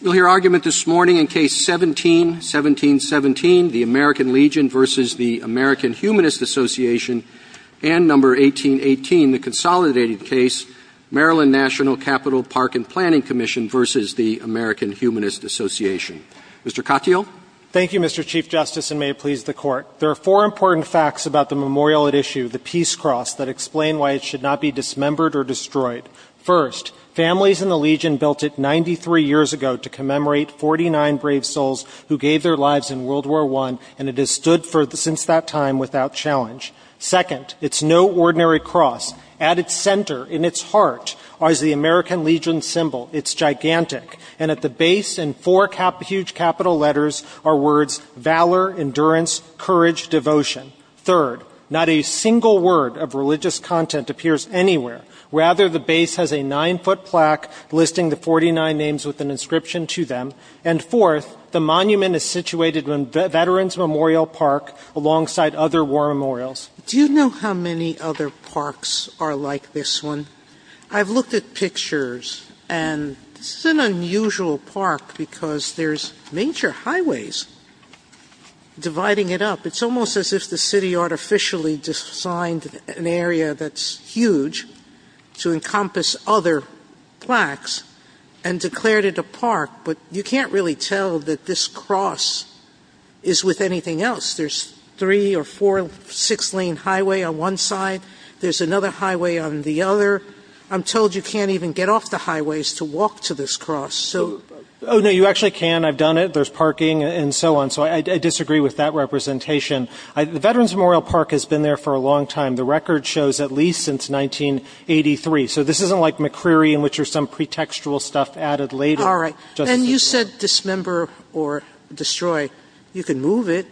You'll hear argument this morning in Case 17-17-17, the American Legion v. the American Humanist Association, and Number 18-18, the consolidated case, Maryland National Capital Park and Planning Commission v. the American Humanist Association. Mr. Katyal? Thank you, Mr. Chief Justice, and may it please the Court. There are four important facts about the memorial at issue, the Peace Cross, that explain why it should not be dismembered or destroyed. First, families in the Legion built it 93 years ago to commemorate 49 brave souls who gave their lives in World War I, and it has stood since that time without challenge. Second, it's no ordinary cross. At its center, in its heart, lies the American Legion symbol. It's gigantic, and at the base and four huge capital letters are words, Valor, Endurance, Courage, Devotion. Third, not a single word of religious content appears anywhere. Rather, the base has a nine-foot plaque listing the 49 names with an inscription to them. And fourth, the monument is situated in Veterans Memorial Park alongside other war memorials. Do you know how many other parks are like this one? I've looked at pictures, and it's an unusual park because there's major highways dividing it up. It's almost as if the city artificially designed an area that's huge to encompass other plaques and declared it a park, but you can't really tell that this cross is with anything else. There's three or four six-lane highway on one side. There's another highway on the other. I'm told you can't even get off the highways to walk to this cross. Oh, no, you actually can. I've done it. There's parking and so on. So I disagree with that representation. Veterans Memorial Park has been there for a long time. The record shows at least since 1983. So this isn't like McCreary in which there's some pretextual stuff added later. All right. And you said dismember or destroy. You can move it.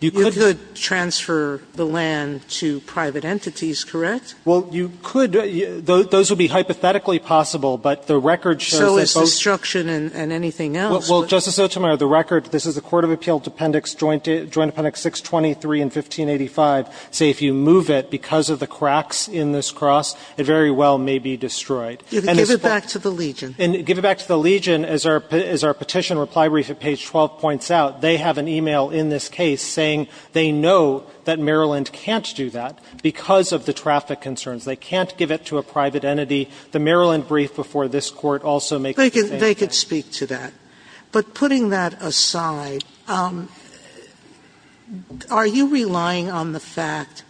You could. You could transfer the land to private entities, correct? Well, you could. Those would be hypothetically possible, but the record shows that those — So it's destruction and anything else. Well, Justice O'Toole, the record, this is the Court of Appeals Appendix 623 and 1585. So if you move it because of the cracks in this cross, it very well may be destroyed. Give it back to the Legion. Give it back to the Legion. As our petition reply brief at page 12 points out, they have an email in this case saying they know that Maryland can't do that because of the traffic concerns. They can't give it to a private entity. The Maryland brief before this court also makes — They could speak to that. But putting that aside, are you relying on the fact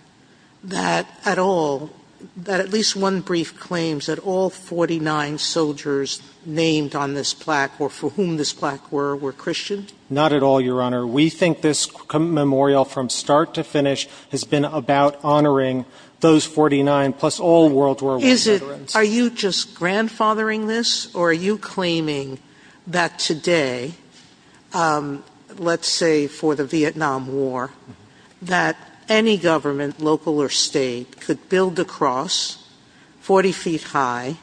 that at all, that at least one brief claims that all 49 soldiers named on this plaque or for whom this plaque were, were Christian? Not at all, Your Honor. We think this memorial from start to finish has been about honoring those 49 plus all World War I veterans. Are you just grandfathering this or are you claiming that today, let's say for the Vietnam War, that any government, local or state, could build a cross 40 feet high,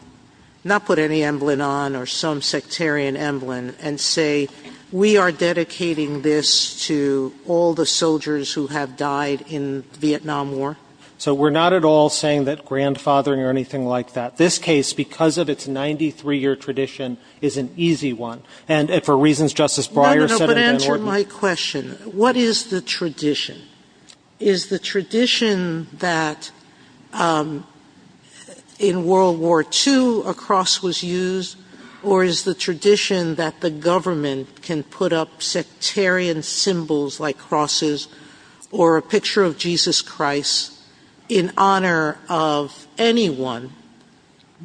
not put any emblem on or some sectarian emblem and say, we are dedicating this to all the soldiers who have died in the Vietnam War? So we're not at all saying that grandfathering or anything like that. This case, because of its 93-year tradition, is an easy one. And for reasons Justice Breyer said — No, no, no, but answer my question. What is the tradition? Is the tradition that in World War II a cross was used or is the tradition that the government can put up sectarian symbols like crosses or a picture of Jesus Christ in honor of anyone?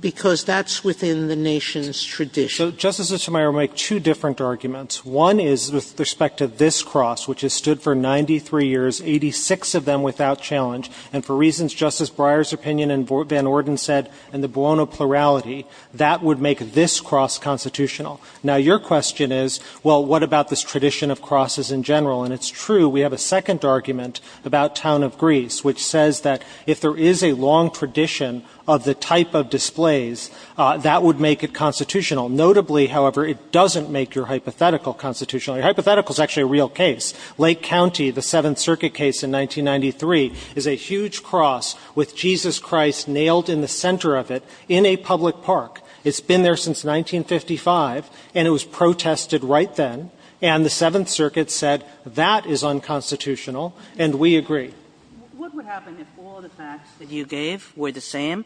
Because that's within the nation's tradition. So Justice Schumeyer would make two different arguments. One is with respect to this cross, which has stood for 93 years, 86 of them without challenge. And for reasons Justice Breyer's opinion and Van Orden said in the Buono plurality, that would make this cross constitutional. Now your question is, well, what about this tradition of crosses in general? And it's true, we have a second argument about Town of Greece, which says that if there is a long tradition of the type of displays, that would make it constitutional. Notably, however, it doesn't make your hypothetical constitutional. Your hypothetical is actually a real case. Lake County, the Seventh Circuit case in 1993, is a huge cross with Jesus Christ nailed in the center of it in a public park. It's been there since 1955, and it was protested right then. And the Seventh Circuit said that is unconstitutional, and we agree. What would happen if all the facts that you gave were the same,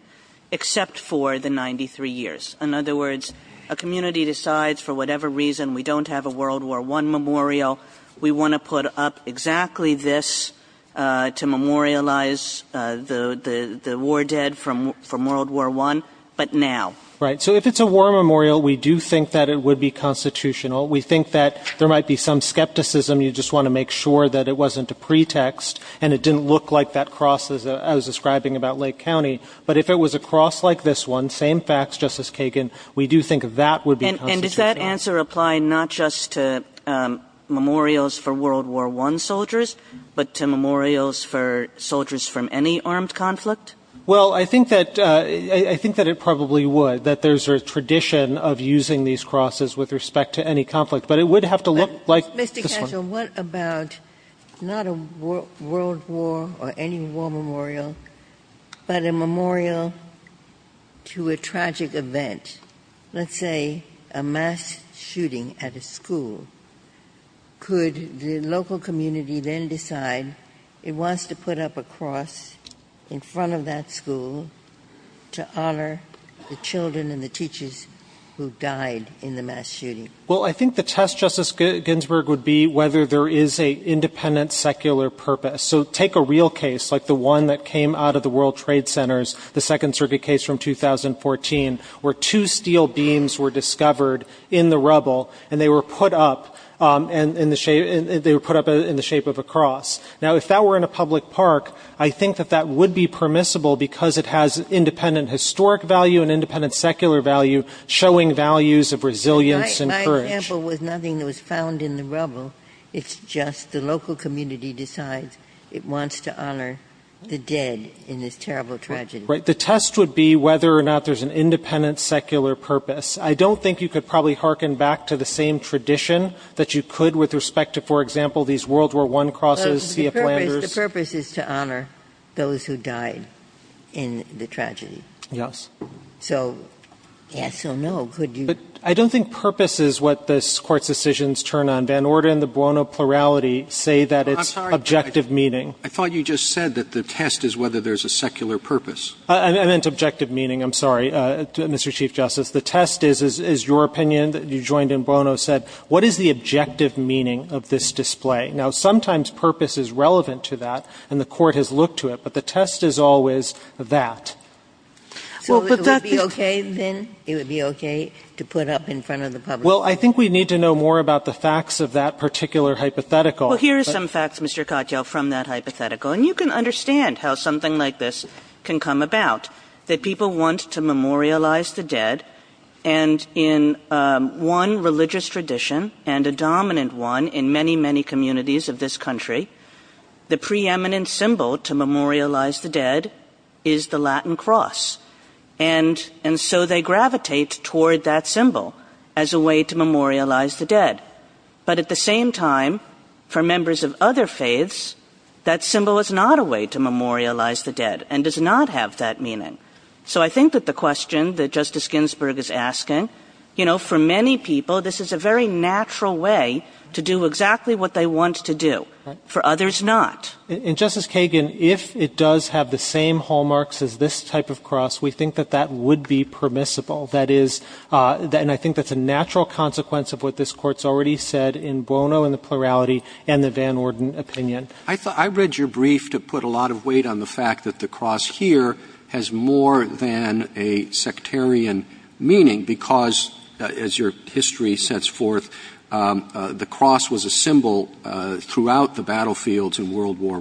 except for the 93 years? In other words, a community decides for whatever reason we don't have a World War I memorial, we want to put up exactly this to memorialize the war dead from World War I, but now? Right. So if it's a war memorial, we do think that it would be constitutional. We think that there might be some skepticism. You just want to make sure that it wasn't a pretext, and it didn't look like that cross I was describing about Lake County. But if it was a cross like this one, same facts, Justice Kagan, we do think that would be constitutional. And does that answer apply not just to memorials for World War I soldiers, but to memorials for soldiers from any armed conflict? Well, I think that it probably would, that there's a tradition of using these crosses with respect to any conflict. But it would have to look like this one. Mr. Cantor, what about not a World War or any war memorial, but a memorial to a tragic event? Let's say a mass shooting at a school. Could the local community then decide it wants to put up a cross in front of that school to honor the children and the teachers who died in the mass shooting? Well, I think the test, Justice Ginsburg, would be whether there is an independent secular purpose. So take a real case like the one that came out of the World Trade Center, the Second Circuit case from 2014, where two steel beams were discovered in the rubble, and they were put up in the shape of a cross. Now, if that were in a public park, I think that that would be permissible because it has independent historic value and independent secular value, showing values of resilience and courage. My example was nothing that was found in the rubble. It's just the local community decides it wants to honor the dead in this terrible tragedy. Right. The test would be whether or not there's an independent secular purpose. I don't think you could probably hearken back to the same tradition that you could with respect to, for example, these World War I crosses. The purpose is to honor those who died in the tragedy. Yes. So, yes or no, could you? I don't think purpose is what this Court's decisions turn on. Van Orden and the Buono plurality say that it's objective meaning. I thought you just said that the test is whether there's a secular purpose. I meant objective meaning. I'm sorry, Mr. Chief Justice. The test is your opinion. You joined in, Buono said. What is the objective meaning of this display? Now, sometimes purpose is relevant to that, and the Court has looked to it, but the test is always that. So, it would be okay, then? It would be okay to put up in front of the public? Well, I think we need to know more about the facts of that particular hypothetical. Well, here are some facts, Mr. Cottrell, from that hypothetical. And you can understand how something like this can come about, that people want to memorialize the dead. And in one religious tradition, and a dominant one in many, many communities of this country, the preeminent symbol to memorialize the dead is the Latin cross. And so they gravitate toward that symbol as a way to memorialize the dead. But at the same time, for members of other faiths, that symbol is not a way to memorialize the dead, and does not have that meaning. So I think that the question that Justice Ginsburg is asking, you know, for many people, this is a very natural way to do exactly what they want to do. For others, not. And Justice Kagan, if it does have the same hallmarks as this type of cross, we think that that would be permissible. That is, and I think that's a natural consequence of what this Court's already said in Buono, in the plurality, and the Van Orden opinion. I read your brief to put a lot of weight on the fact that the cross here has more than a sectarian meaning, because as your history sets forth, the cross was a symbol throughout the battlefields in World War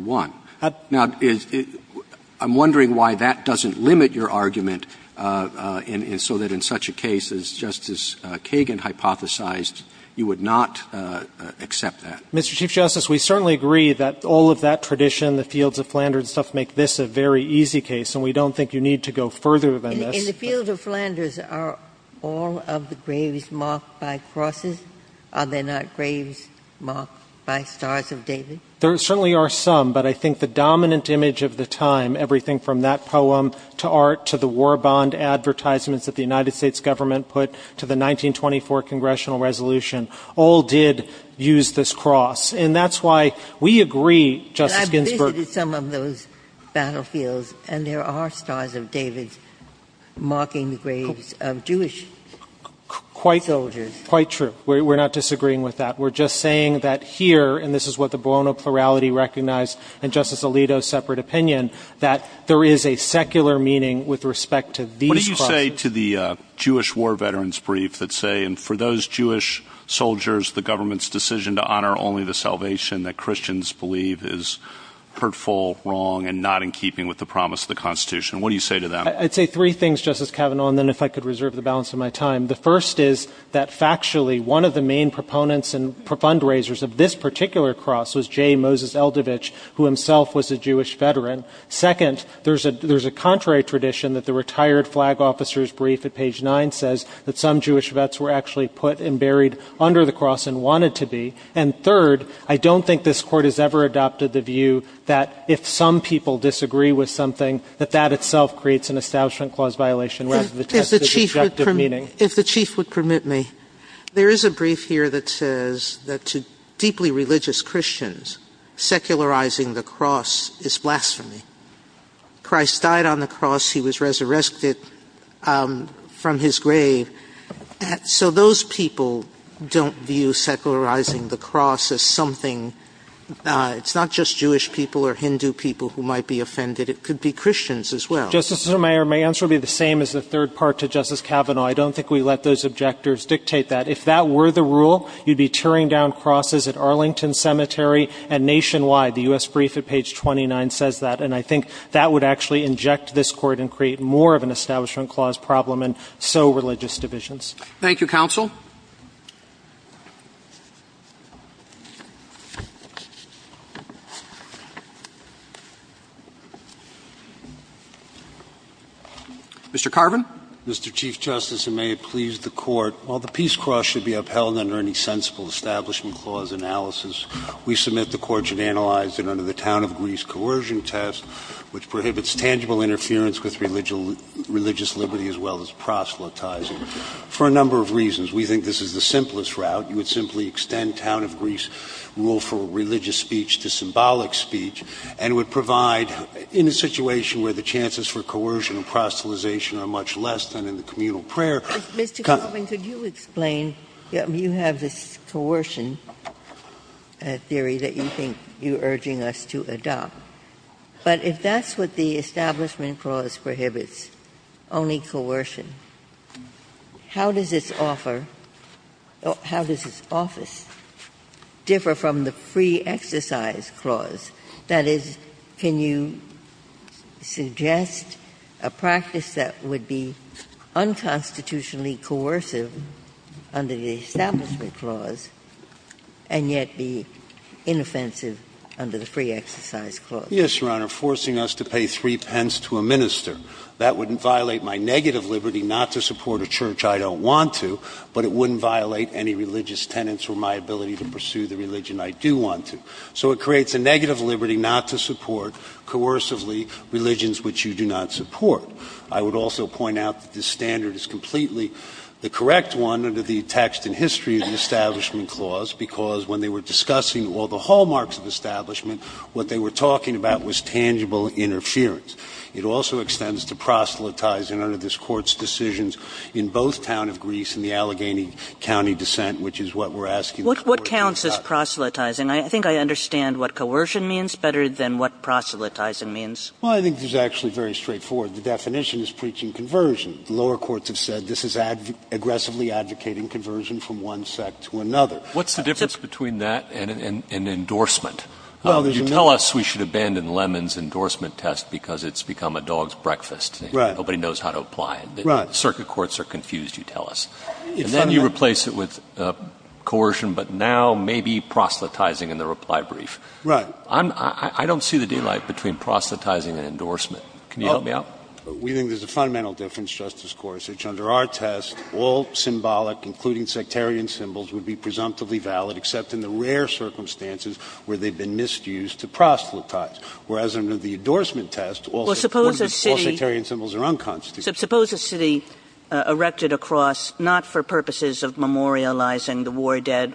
I. Now, I'm wondering why that doesn't limit your argument, so that in such a case, as Justice Kagan hypothesized, you would not accept that. Mr. Chief Justice, we certainly agree that all of that tradition, the fields of Flanders and stuff, make this a very easy case, and we don't think you need to go further than this. In the fields of Flanders, are all of the graves marked by crosses? Are there not graves marked by stars of David? There certainly are some, but I think the dominant image of the time, everything from that poem to art to the war bond advertisements that the United States government put out to the 1924 Congressional Resolution, all did use this cross. And that's why we agree, Justice Ginsburg— But I've visited some of those battlefields, and there are stars of David marking the graves of Jewish soldiers. Quite true. We're not disagreeing with that. We're just saying that here, and this is what the Buono plurality recognized in Justice Alito's separate opinion, that there is a secular meaning with respect to these— What do you say to the Jewish war veterans brief that say, and for those Jewish soldiers, the government's decision to honor only the salvation that Christians believe is hurtful, wrong, and not in keeping with the promise of the Constitution? What do you say to that? I'd say three things, Justice Kavanaugh, and then if I could reserve the balance of my time. The first is that factually, one of the main proponents and fundraisers of this particular cross was J. Moses Eldovich, who himself was a Jewish veteran. Second, there's a contrary tradition that the retired flag officer's brief at page 9 says that some Jewish vets were actually put and buried under the cross and wanted to be. And third, I don't think this Court has ever adopted the view that if some people disagree with something, that that itself creates an establishment clause violation rather than test the objective meaning. If the Chief would permit me, there is a brief here that says that to deeply religious Christians, secularizing the cross is blasphemy. Christ died on the cross. He was resurrected from his grave. So those people don't view secularizing the cross as something, it's not just Jewish people or Hindu people who might be offended. It could be Christians as well. Justice Sotomayor, my answer will be the same as the third part to Justice Kavanaugh. I don't think we let those objectives dictate that. If that were the rule, you'd be tearing down crosses at Arlington Cemetery and nationwide. The U.S. brief at page 29 says that. And I think that would actually inject this Court and create more of an establishment clause problem and so religious divisions. Thank you, Counsel. Mr. Carvin. Mr. Chief Justice, and may it please the Court, while the peace cross should be upheld under any sensible establishment clause analysis, we submit the Court should analyze it under the Town of Greece coercion test, which prohibits tangible interference with religious liberty as well as proselytizing, for a number of reasons. We think this is the simplest route. You would simply extend Town of Greece rule for religious speech to symbolic speech and would provide in a situation where the chances for coercion and proselytization are much less than in the communal prayer. Mr. Carvin, could you explain, you have this coercion theory that you think you're urging us to adopt. But if that's what the establishment clause prohibits, only coercion, how does its office differ from the free exercise clause? That is, can you suggest a practice that would be unconstitutionally coercive under the establishment clause and yet be inoffensive under the free exercise clause? Yes, Your Honor. Forcing us to pay three pence to a minister. That wouldn't violate my negative liberty not to support a church I don't want to, but it wouldn't violate any religious tenets for my ability to pursue the religion I do want to. So it creates a negative liberty not to support coercively religions which you do not support. I would also point out that this standard is completely the correct one under the text and history of the establishment clause because when they were discussing all the hallmarks of establishment, what they were talking about was tangible interference. It also extends to proselytizing under this court's decisions in both town of Greece and the Allegheny County dissent which is what we're asking. What counts as proselytizing? I think I understand what coercion means better than what proselytizing means. Well, I think this is actually very straightforward. The definition is preaching conversion. Lower courts have said this is aggressively advocating conversion from one sect to another. What's the difference between that and endorsement? Well, you tell us we should abandon Lemmon's endorsement test because it's become a dog's breakfast. Nobody knows how to apply it. Circuit courts are confused, you tell us. And then you replace it with coercion, but now maybe proselytizing in the reply brief. I don't see the difference between proselytizing and endorsement. Can you help me out? We think there's a fundamental difference, Justice Gorsuch. Under our test, all symbolic, including sectarian symbols, would be presumptively valid except in the rare circumstances where they've been misused to proselytize. Whereas under the endorsement test, all sectarian symbols are unconstitutional. Suppose a city erected a cross not for purposes of memorializing the war dead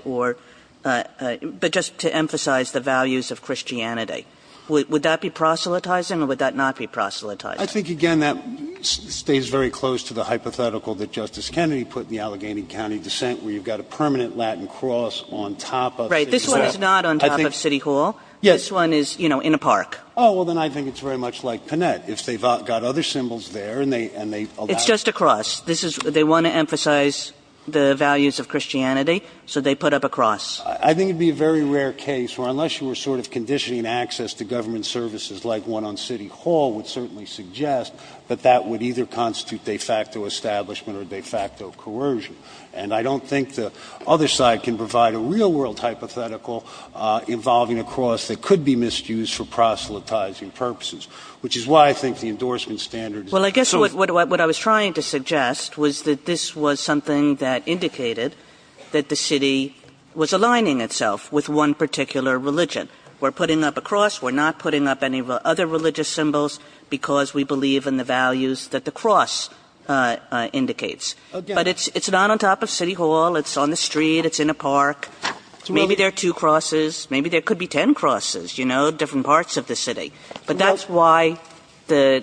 but just to emphasize the values of Christianity. Would that be proselytizing or would that not be proselytizing? I think, again, that stays very close to the hypothetical that Justice Kennedy put in the Allegheny County dissent where you've got a permanent Latin cross on top of the city hall. Right, this one is not on top of city hall. This one is, you know, in a park. Oh, well, then I think it's very much like Panette. If they've got other symbols there and they allow it. It's just a cross. They want to emphasize the values of Christianity, so they put up a cross. I think it would be a very rare case where unless you were sort of conditioning access to government services like one on city hall would certainly suggest that that would either constitute de facto establishment or de facto coercion. And I don't think the other side can provide a real-world hypothetical involving a cross that could be misused for proselytizing purposes, which is why I think the endorsement standard is important. Well, I guess what I was trying to suggest was that this was something that indicated that the city was aligning itself with one particular religion. We're putting up a cross. We're not putting up any other religious symbols because we believe in the values that the cross indicates. But it's not on top of city hall. It's on the street. It's in a park. Maybe there are two crosses. Maybe there could be ten crosses, you know, different parts of the city. But that's why the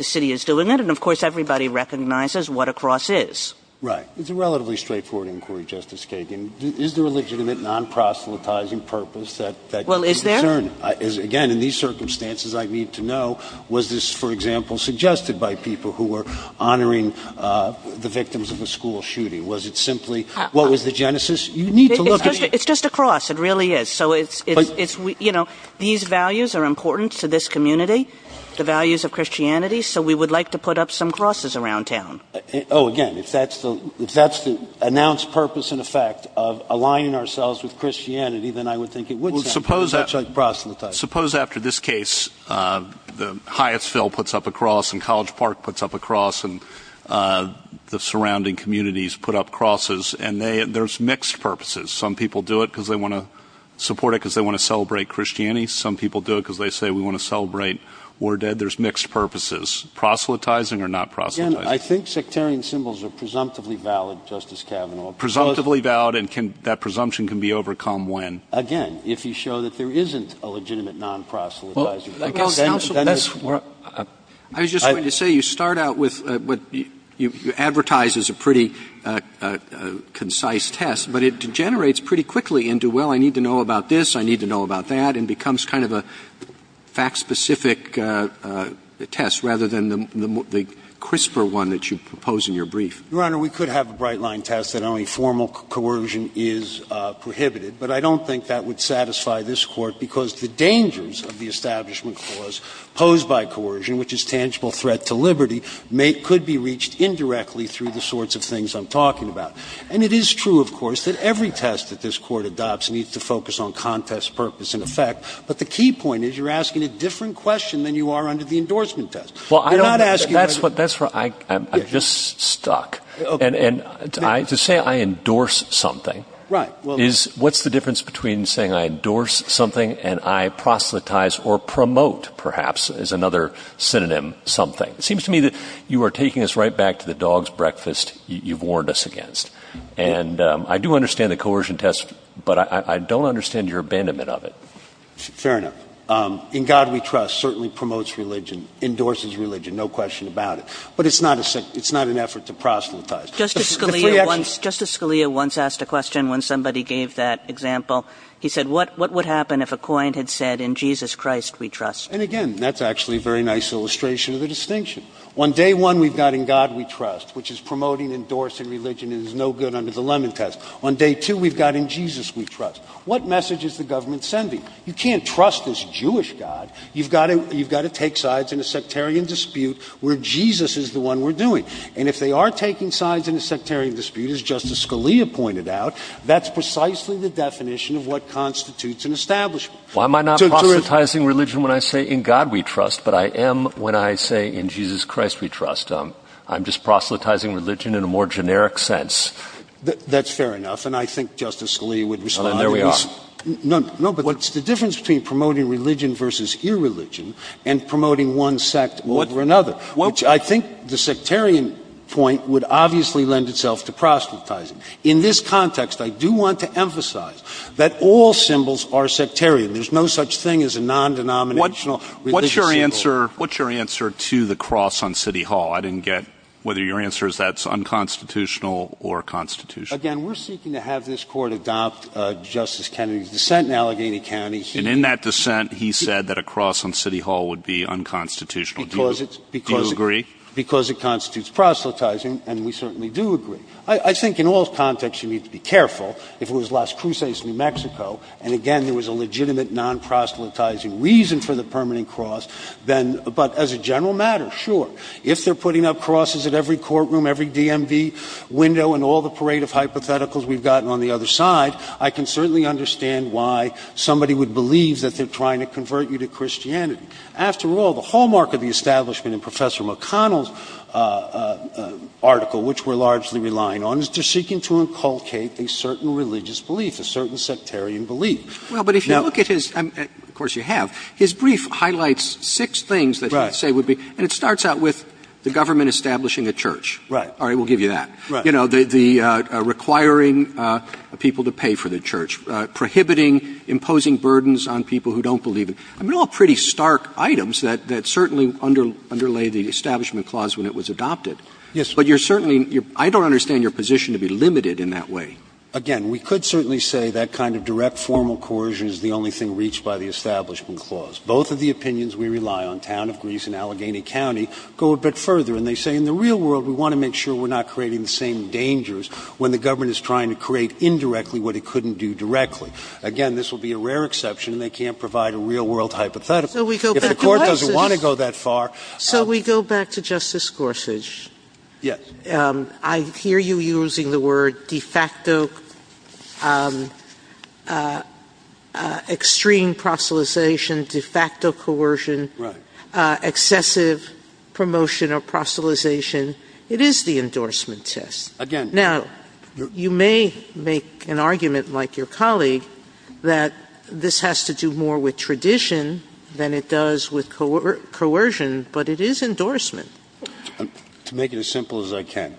city is doing it. And, of course, everybody recognizes what a cross is. Right. It's a relatively straightforward inquiry, Justice Kagan. Is there a legitimate non-proselytizing purpose that is returning? Well, is there? Again, in these circumstances, I need to know was this, for example, suggested by people who were honoring the victims of the school shooting? Was it simply what was the genesis? You need to look at it. It's just a cross. It really is. So, you know, these values are important to this community, the values of Christianity. So we would like to put up some crosses around town. Oh, again, if that's the announced purpose and effect of aligning ourselves with Christianity, then I would think it would be such as proselytizing. Suppose after this case, Hyattsville puts up a cross and College Park puts up a cross and the surrounding communities put up crosses, and there's mixed purposes. Some people do it because they want to support it because they want to celebrate Christianity. Some people do it because they say we want to celebrate war dead. There's mixed purposes. Proselytizing or not proselytizing? Again, I think sectarian symbols are presumptively valid, Justice Kavanaugh. Presumptively valid, and that presumption can be overcome when? Again, if you show that there isn't a legitimate non-proselytizing. I was just going to say you start out with what you advertise as a pretty concise test, but it degenerates pretty quickly into, well, I need to know about this, I need to know about that, and becomes kind of a fact-specific test rather than the CRISPR one that you propose in your brief. Your Honor, we could have a bright-line test that only formal coercion is prohibited, but I don't think that would satisfy this Court because the dangers of the Establishment Clause posed by coercion, which is tangible threat to liberty, could be reached indirectly through the sorts of things I'm talking about. And it is true, of course, that every test that this Court adopts needs to focus on contest, purpose, and effect, but the key point is you're asking a different question than you are under the endorsement test. That's where I'm just stuck. To say I endorse something, what's the difference between saying I endorse something and I proselytize or promote, perhaps, is another synonym, something. It seems to me that you are taking us right back to the dog's breakfast you've warned us against. And I do understand the coercion test, but I don't understand your abandonment of it. Fair enough. In God We Trust certainly promotes religion, endorses religion, no question about it. But it's not an effort to proselytize. Justice Scalia once asked a question when somebody gave that example. He said, what would happen if a client had said, In Jesus Christ We Trust? And again, that's actually a very nice illustration of the distinction. On day one, we've got In God We Trust, which is promoting, endorsing religion, and is no good under the Lemon Test. On day two, we've got In Jesus We Trust. What message is the government sending? You can't trust this Jewish God. You've got to take sides in a sectarian dispute where Jesus is the one we're doing. And if they are taking sides in a sectarian dispute, as Justice Scalia pointed out, that's precisely the definition of what constitutes an establishment. Why am I not proselytizing religion when I say In God We Trust, but I am when I say In Jesus Christ We Trust? I'm just proselytizing religion in a more generic sense. That's fair enough, and I think Justice Scalia would respond to this. There we are. No, but the difference between promoting religion versus irreligion and promoting one sect over another, which I think the sectarian point would obviously lend itself to proselytizing. In this context, I do want to emphasize that all symbols are sectarian. There's no such thing as a non-denominational religious symbol. What's your answer to the cross on City Hall? I didn't get whether your answer is that's unconstitutional or constitutional. Again, we're seeking to have this court adopt Justice Kennedy's dissent in Allegheny County. And in that dissent, he said that a cross on City Hall would be unconstitutional. Do you agree? Because it constitutes proselytizing, and we certainly do agree. I think in all contexts, you need to be careful. If it was Las Cruces, New Mexico, and, again, there was a legitimate non-proselytizing reason for the permanent cross, but as a general matter, sure. If they're putting up crosses at every courtroom, every DMV window, and all the parade of hypotheticals we've gotten on the other side, I can certainly understand why somebody would believe that they're trying to convert you to Christianity. After all, the hallmark of the establishment in Professor McConnell's article, which we're largely relying on, is they're seeking to inculcate a certain religious belief, a certain sectarian belief. Well, but if you look at his—and, of course, you have— his brief highlights six things that he would say would be— and it starts out with the government establishing a church. All right, we'll give you that. You know, requiring people to pay for the church, prohibiting imposing burdens on people who don't believe in— I mean, they're all pretty stark items that certainly underlay the establishment clause when it was adopted. But you're certainly—I don't understand your position to be limited in that way. Again, we could certainly say that kind of direct formal coercion is the only thing reached by the establishment clause. Both of the opinions we rely on, town of Greece and Allegheny County, go a bit further, and they say in the real world, we want to make sure we're not creating the same dangers when the government is trying to create indirectly what it couldn't do directly. Again, this will be a rare exception. They can't provide a real-world hypothetical. If the court doesn't want to go that far— So we go back to Justice Gorsuch. Yes. I hear you using the word de facto extreme proselytization, de facto coercion, excessive promotion of proselytization. It is the endorsement test. Now, you may make an argument like your colleague that this has to do more with tradition than it does with coercion, but it is endorsement. To make it as simple as I can,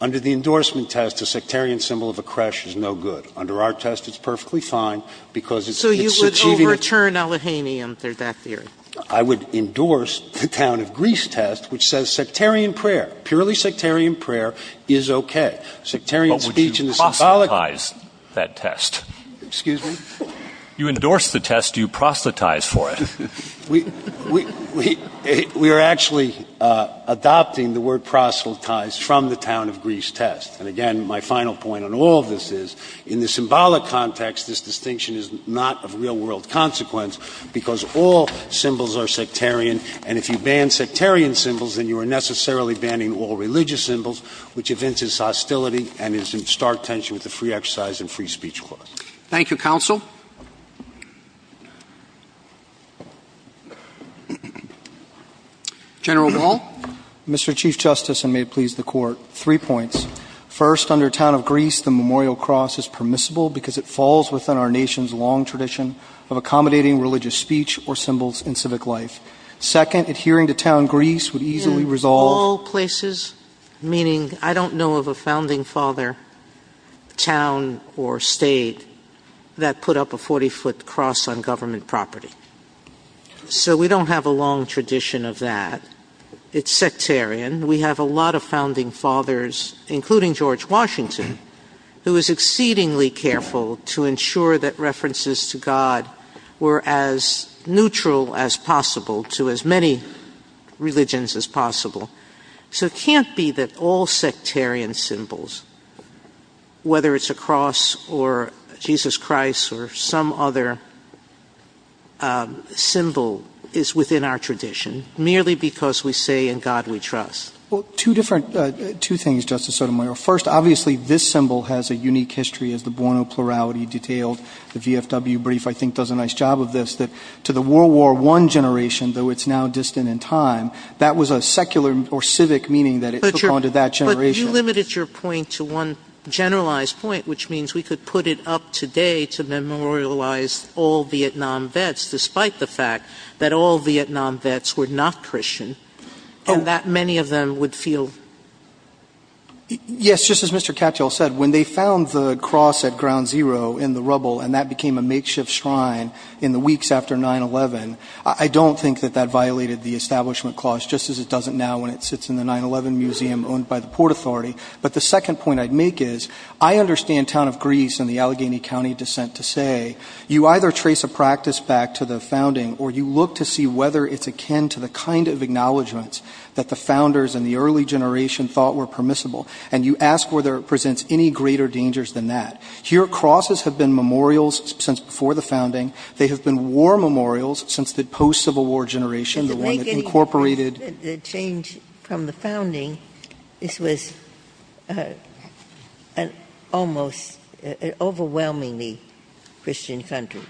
under the endorsement test, a sectarian symbol of a crush is no good. Under our test, it's perfectly fine because it's— So you would overturn Allegheny in that theory? I would endorse the town of Greece test, which says sectarian prayer, purely sectarian prayer, is okay. Sectarian speech and— But you proselytize that test. Excuse me? You endorse the test, you proselytize for it. We are actually adopting the word proselytize from the town of Greece test. And, again, my final point on all of this is, in the symbolic context, this distinction is not of real-world consequence because all symbols are sectarian, and if you ban sectarian symbols, then you are necessarily banning all religious symbols, which evinces hostility and is in stark tension with the free exercise and free speech laws. Thank you, counsel. General DeMol. Mr. Chief Justice, and may it please the Court, three points. First, under town of Greece, the memorial cross is permissible because it falls within our nation's long tradition of accommodating religious speech or symbols in civic life. Second, adhering to town Greece would easily resolve— In all places, meaning, I don't know of a founding father, town, or state that put up a 40-foot cross on government property. So we don't have a long tradition of that. It's sectarian. We have a lot of founding fathers, including George Washington, who was exceedingly careful to ensure that references to God were as neutral as possible to as many religions as possible. So it can't be that all sectarian symbols, whether it's a cross or Jesus Christ or some other symbol, is within our tradition merely because we say in God we trust. Well, two things, Justice Sotomayor. First, obviously, this symbol has a unique history of the Buono plurality detailed. The VFW brief, I think, does a nice job of this, that to the World War I generation, though it's now distant in time, that was a secular or civic meaning that it took on to that generation. You limited your point to one generalized point, which means we could put it up today to memorialize all Vietnam vets, despite the fact that all Vietnam vets were not Christian, and that many of them would feel... Yes, just as Mr. Catchall said, when they found the cross at Ground Zero in the rubble and that became a makeshift shrine in the weeks after 9-11, I don't think that that violated the establishment clause, just as it doesn't now when it sits in the 9-11 museum owned by the Port Authority. But the second point I'd make is I understand Town of Greece and the Allegheny County descent to say you either trace a practice back to the founding or you look to see whether it's akin to the kind of acknowledgments that the founders and the early generation thought were permissible, and you ask whether it presents any greater dangers than that. Here, crosses have been memorials since before the founding. They have been war memorials since the post-Civil War generation, the one that incorporated... The change from the founding, this was an almost overwhelmingly Christian country.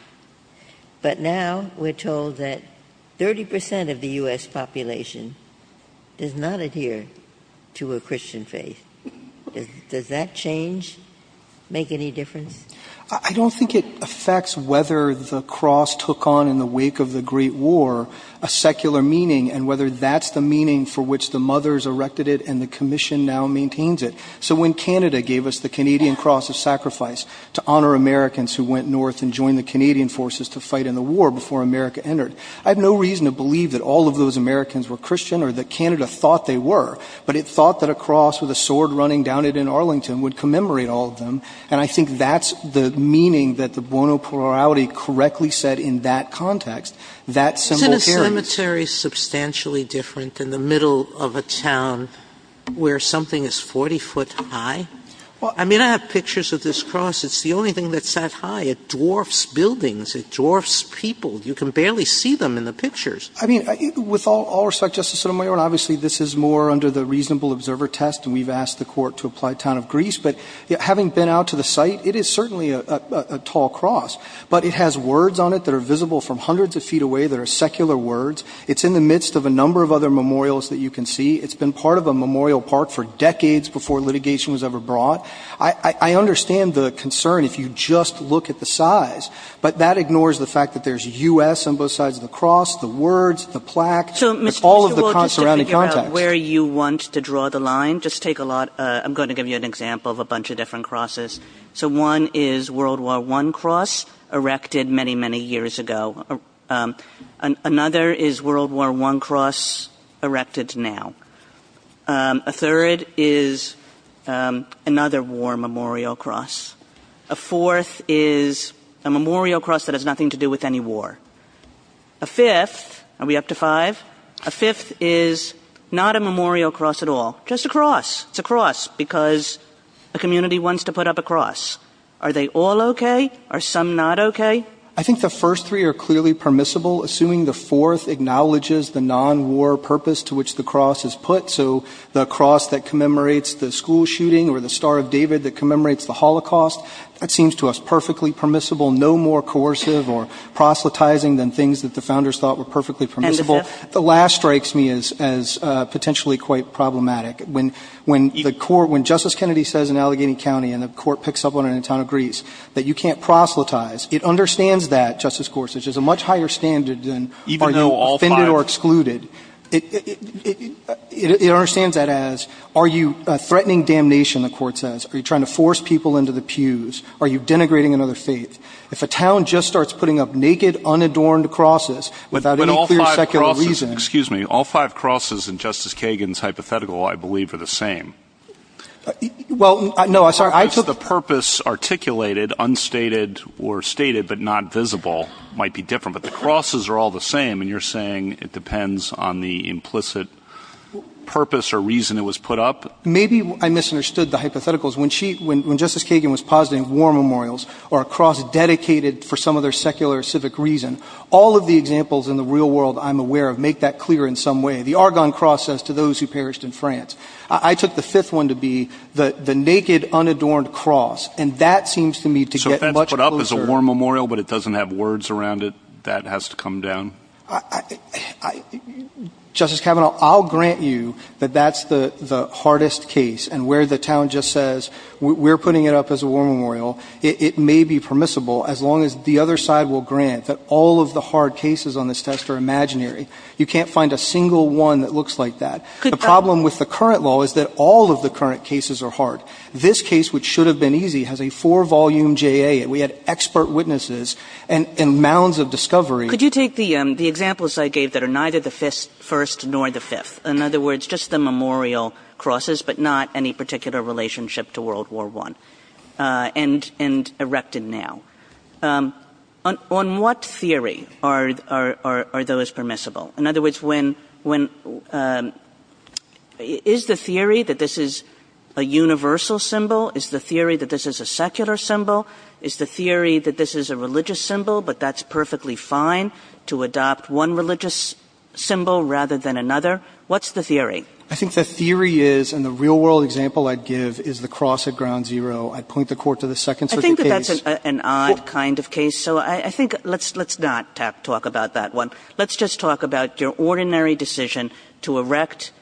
But now we're told that 30% of the U.S. population does not adhere to a Christian faith. Does that change make any difference? I don't think it affects whether the cross took on in the wake of the Great War a secular meaning and whether that's the meaning for which the mothers erected it and the commission now maintains it. So when Canada gave us the Canadian cross as sacrifice to honour Americans who went north and joined the Canadian forces to fight in the war before America entered, I have no reason to believe that all of those Americans were Christian or that Canada thought they were, but it's thought that a cross with a sword running down it in Arlington would commemorate all of them, and I think that's the meaning that the Buono plurality correctly said in that context. Isn't a cemetery substantially different than the middle of a town where something is 40 foot high? I mean, I have pictures of this cross. It's the only thing that's that high. It dwarfs buildings. It dwarfs people. You can barely see them in the pictures. I mean, with all respect, Justice Sotomayor, and obviously this is more under the reasonable observer test and we've asked the court to apply town of Greece, but having been out to the site, it is certainly a tall cross, but it has words on it that are visible from hundreds of feet away that are secular words. It's in the midst of a number of other memorials that you can see. It's been part of a memorial park for decades before litigation was ever brought. I understand the concern if you just look at the size, but that ignores the fact that there's U.S. on both sides of the cross, the words, the plaque. It's all of the cross' surrounding context. Where you want to draw the line, just take a lot, I'm going to give you an example of a bunch of different crosses. So one is World War I cross, erected many, many years ago. Another is World War I cross, erected now. A third is another war memorial cross. A fourth is a memorial cross that has nothing to do with any war. A fifth, are we up to five? A fifth is not a memorial cross at all, just a cross. It's a cross because the community wants to put up a cross. Are they all okay? Are some not okay? I think the first three are clearly permissible, assuming the fourth acknowledges the non-war purpose to which the cross is put. So the cross that commemorates the school shooting or the Star of David that commemorates the Holocaust, that seems to us perfectly permissible. No more coercive or proselytizing than things that the founders thought were perfectly permissible. The last strikes me as potentially quite problematic. When Justice Kennedy says in Allegheny County, and the court picks up on it in the town of Greece, that you can't proselytize, it understands that, Justice Gorsuch, as a much higher standard than are you offended or excluded. It understands that as are you threatening damnation, the court says. Are you trying to force people into the pews? Are you denigrating another faith? If a town just starts putting up naked, unadorned crosses without any clear secular reason. Excuse me. All five crosses in Justice Kagan's hypothetical I believe are the same. Well, no, I'm sorry. I thought the purpose articulated, unstated, or stated but not visible might be different, but the crosses are all the same, and you're saying it depends on the implicit purpose or reason it was put up? Maybe I misunderstood the hypotheticals. When Justice Kagan was positing war memorials or a cross dedicated for some other secular or civic reason, all of the examples in the real world I'm aware of make that clear in some way. The Argonne Cross says to those who perished in France. I took the fifth one to be the naked, unadorned cross, and that seems to me to get much closer. So if that's put up as a war memorial but it doesn't have words around it, that has to come down? Justice Kavanaugh, I'll grant you that that's the hardest case, and where the town just says we're putting it up as a war memorial, it may be permissible as long as the other side will grant that all of the hard cases on this test are imaginary. You can't find a single one that looks like that. The problem with the current law is that all of the current cases are hard. This case, which should have been easy, has a four-volume JA, and we had expert witnesses and mounds of discovery. Could you take the examples I gave that are neither the first nor the fifth? In other words, just the memorial crosses but not any particular relationship to World War I and erected now. On what theory are those permissible? In other words, is the theory that this is a universal symbol? Is the theory that this is a secular symbol? Is the theory that this is a religious symbol but that's perfectly fine to adopt one religious symbol rather than another? What's the theory? I think the theory is, and the real-world example I'd give, is the cross at Ground Zero. I point the court to the Second Circuit case. I think that that's an odd kind of case, so I think let's not talk about that one. Let's just talk about your ordinary decision to erect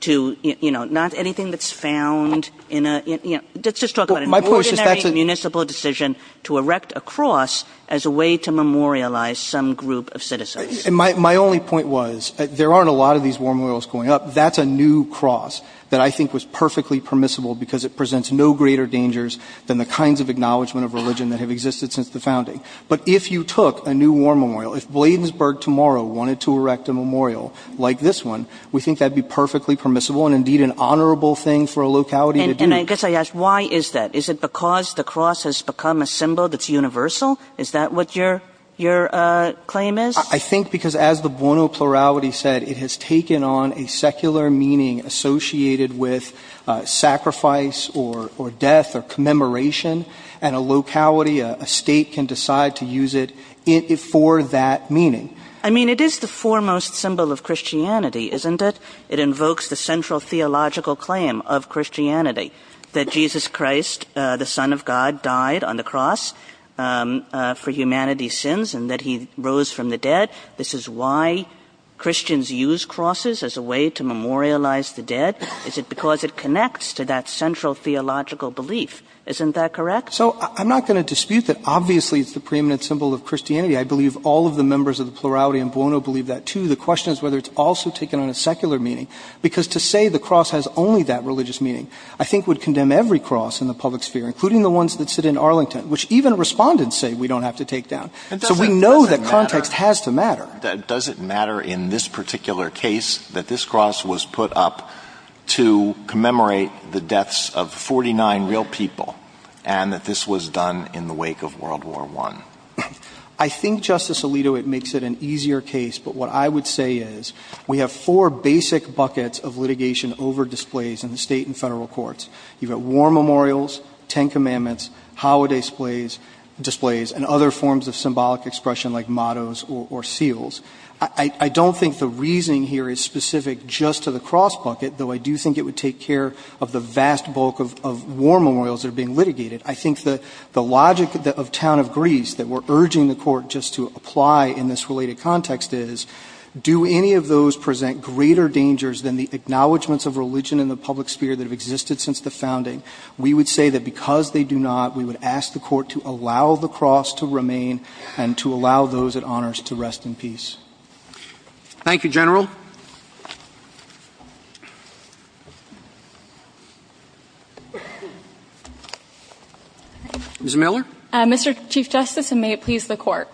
to, you know, not anything that's found in a, you know, let's just talk about an ordinary municipal decision to erect a cross as a way to memorialize some group of citizens. My only point was there aren't a lot of these memorials going up. That's a new cross that I think was perfectly permissible because it presents no greater dangers than the kinds of acknowledgement of religion that have existed since the founding. But if you took a new war memorial, if Bladensburg tomorrow wanted to erect a memorial like this one, we think that'd be perfectly permissible and indeed an honorable thing for a locality to do. And I guess I ask, why is that? Is it because the cross has become a symbol that's universal? Is that what your claim is? I think because as the Buono plurality said, it has taken on a secular meaning associated with sacrifice or death or commemoration, and a locality, a state can decide to use it for that meaning. I mean, it is the foremost symbol of Christianity, isn't it? It invokes the central theological claim of Christianity, that Jesus Christ, the son of God, died on the cross for humanity's sins and that he rose from the dead. This is why Christians use crosses as a way to memorialize the dead. Is it because it connects to that central theological belief? Isn't that correct? So I'm not going to dispute that obviously it's the preeminent symbol of Christianity. I believe all of the members of the plurality in Buono believe that too. The question is whether it's also taken on a secular meaning because to say the cross has only that religious meaning, I think would condemn every cross in the public sphere, including the ones that sit in Arlington, which even respondents say we don't have to take that. So we know that context has to matter. Does it matter in this particular case that this cross was put up to commemorate the deaths of 49 real people and that this was done in the wake of World War I? I think, Justice Alito, it makes it an easier case, but what I would say is we have four basic buckets of litigation over displays in the state and federal courts. You've got war memorials, Ten Commandments, holiday displays, and other forms of symbolic expression like mottos or seals. I don't think the reasoning here is specific just to the cross bucket, though I do think it would take care of the vast bulk of war memorials that are being litigated. I think the logic of town of Greece that we're urging the court just to apply in this related context is do any of those present greater dangers than the acknowledgements of religion in the public sphere that have existed since the founding? We would say that because they do not, we would ask the court to allow the cross to remain and to allow those at honors to rest in peace. Thank you, General. Ms. Miller? Mr. Chief Justice, and may it please the court,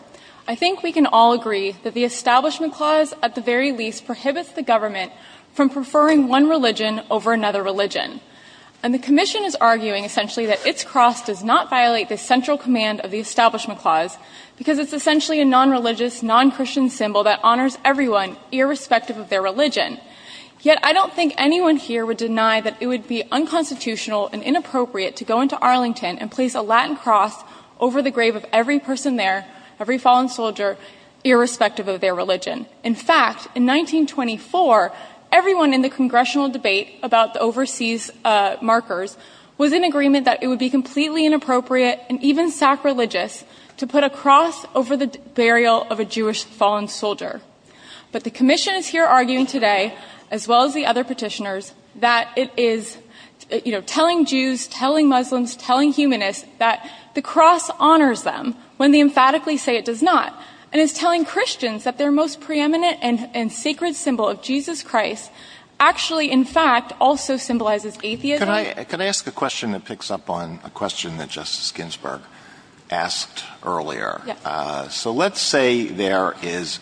I think we can all agree that the Establishment Clause, at the very least, prohibits the government from preferring one religion over another religion. And the Commission is arguing, essentially, that its cross does not violate the central command of the Establishment Clause because it's essentially a non-religious, non-Christian symbol that honors everyone irrespective of their religion. Yet I don't think anyone here would deny that it would be unconstitutional and inappropriate to go into Arlington and place a Latin cross over the grave of every person there, every fallen soldier, irrespective of their religion. In fact, in 1924, everyone in the Congressional debate about the overseas markers was in agreement that it would be completely inappropriate and even sacrilegious to put a cross over the burial of a Jewish fallen soldier. But the Commission is here arguing today, as well as the other petitioners, that it is telling Jews, telling Muslims, telling humanists, that the cross honors them when they emphatically say it does not and is telling Christians that their most preeminent and sacred symbol of Jesus Christ actually, in fact, also symbolizes atheism. Could I ask a question that picks up on a question that Justice Ginsburg asked earlier? So let's say there is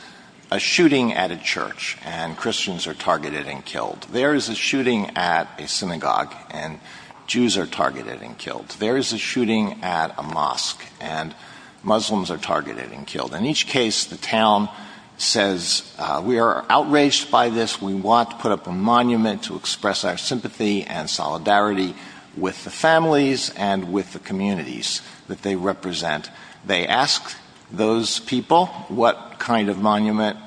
a shooting at a church and Christians are targeted and killed. There is a shooting at a synagogue and Jews are targeted and killed. There is a shooting at a mosque and Muslims are targeted and killed. In each case, the town says, We are outraged by this. We want to put up a monument to express our sympathy and solidarity with the families and with the communities that they represent. They ask those people, What kind of monument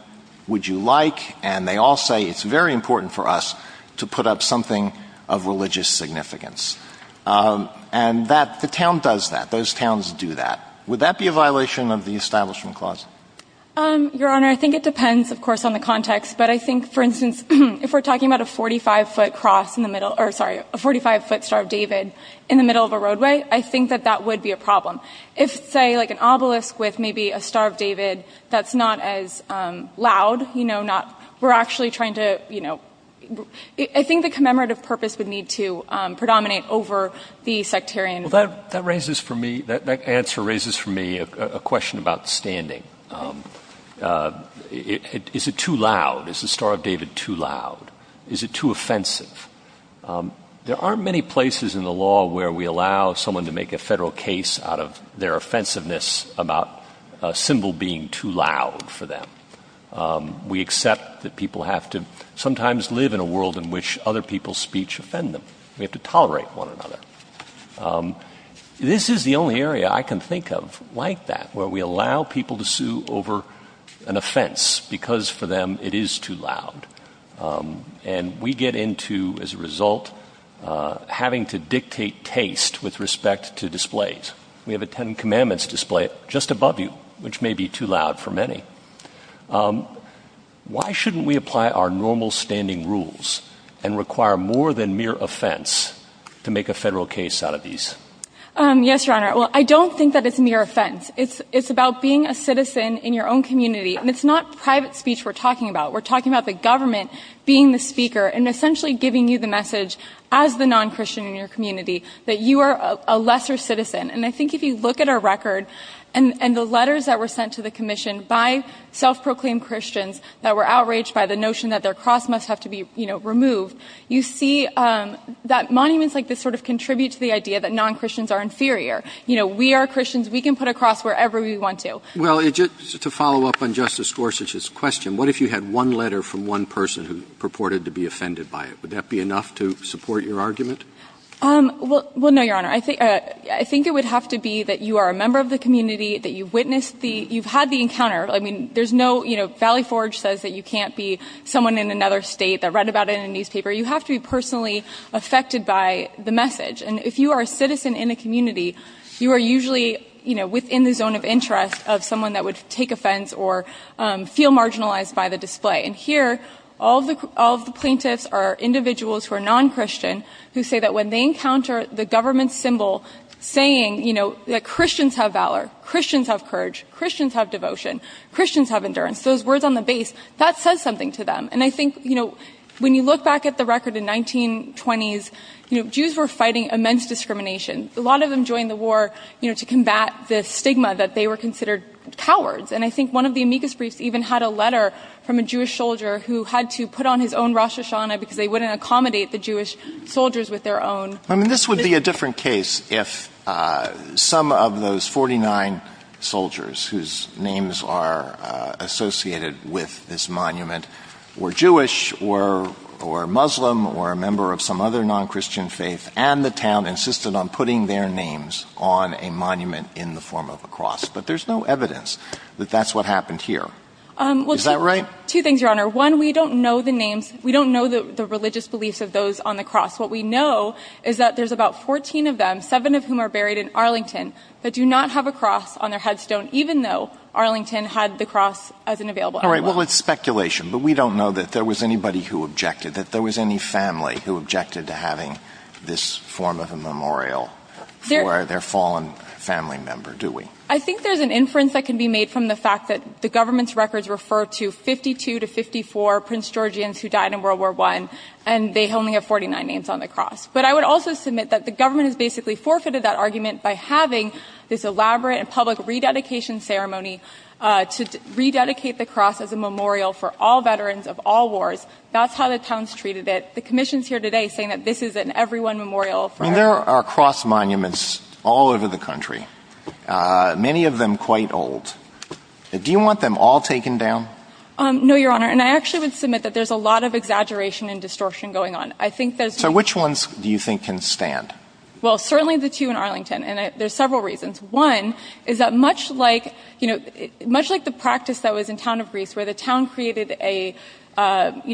would you like? And they all say, It's very important for us to put up something of religious significance. And the town does that. Those towns do that. Would that be a violation of the Establishment Clause? Your Honor, I think it depends, of course, on the context. But I think, for instance, if we're talking about a 45-foot cross in the middle, or sorry, a 45-foot Star of David in the middle of a roadway, I think that that would be a problem. If, say, like an obelisk with maybe a Star of David that's not as loud, you know, we're actually trying to, you know, I think the commemorative purpose would need to predominate over the sectarian. Well, that raises for me, that answer raises for me a question about standing. Is it too loud? Is the Star of David too loud? Is it too offensive? There aren't many places in the law where we allow someone to make a federal case out of their offensiveness about a symbol being too loud for them. We accept that people have to sometimes live in a world in which other people's speech offend them. We have to tolerate one another. This is the only area I can think of like that, where we allow people to sue over an offense because, for them, it is too loud. And we get into, as a result, having to dictate taste with respect to displays. We have a Ten Commandments display just above you, which may be too loud for many. Why shouldn't we apply our normal standing rules and require more than mere offense to make a federal case out of these? Yes, Your Honor. Well, I don't think that it's mere offense. It's about being a citizen in your own community. And it's not private speech we're talking about. We're talking about the government being the speaker and essentially giving you the message as the non-Christian in your community that you are a lesser citizen. And I think if you look at our record and the letters that were sent to the commission by self-proclaimed Christians that were outraged by the notion that their cross must have to be removed, you see that monuments like this contribute to the idea that non-Christians are inferior. We are Christians. We can put a cross wherever we want to. Well, just to follow up on Justice Gorsuch's question, what if you had one letter from one person who purported to be offended by it? Would that be enough to support your argument? Well, no, Your Honor. I think it would have to be that you are a member of the community, that you've had the encounter. I mean, Valley Forge says that you can't be someone in another state that read about it in a newspaper. You have to be personally affected by the message. And if you are a citizen in a community, you are usually within the zone of interest of someone that would take offense or feel marginalized by the display. And here all of the plaintiffs are individuals who are non-Christian who say that when they encounter the government symbol saying that Christians have valor, Christians have courage, Christians have devotion, Christians have endurance, those words on the base, that says something to them. And I think, you know, when you look back at the record in the 1920s, Jews were fighting immense discrimination. A lot of them joined the war to combat the stigma that they were considered cowards. And I think one of the amicus briefs even had a letter from a Jewish soldier who had to put on his own Rosh Hashanah because they wouldn't accommodate the Jewish soldiers with their own. I mean, this would be a different case if some of those 49 soldiers whose names are associated with this monument were Jewish or Muslim or a member of some other non-Christian faith and the town insisted on putting their names on a monument in the form of a cross. But there's no evidence that that's what happened here. Is that right? Two things, Your Honor. One, we don't know the names. We don't know the religious beliefs of those on the cross. What we know is that there's about 14 of them, seven of whom are buried in Arlington, but do not have a cross on their headstone, even though Arlington had the cross as an available evidence. All right. Well, it's speculation. But we don't know that there was anybody who objected, that there was any family who objected to having this form of a memorial for their fallen family member, do we? I think there's an inference that can be made from the fact that the government's records refer to 52 to 54 Prince Georgians who died in World War I, and they only have 49 names on the cross. But I would also submit that the government has basically forfeited that argument by having this elaborate public rededication ceremony to rededicate the cross as a memorial for all veterans of all wars. That's how the town's treated it. The commission's here today saying that this is an everyone memorial. There are cross monuments all over the country, many of them quite old. Do you want them all taken down? No, Your Honor. And I actually would submit that there's a lot of exaggeration and distortion going on. So which ones do you think can stand? Well, certainly the two in Arlington, and there's several reasons. One is that much like the practice that was in Town of Greece where the town created a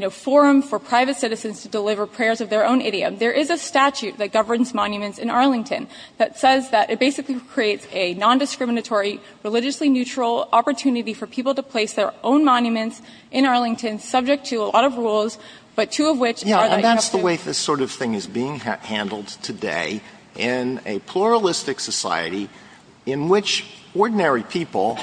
forum for private citizens to deliver prayers of their own idiom, there is a statute that governs monuments in Arlington that says that it basically creates a nondiscriminatory, religiously neutral opportunity for people to place their own monuments in Arlington subject to a lot of rules, but two of which are the... Yeah, that's the way this sort of thing is being handled today in a pluralistic society in which ordinary people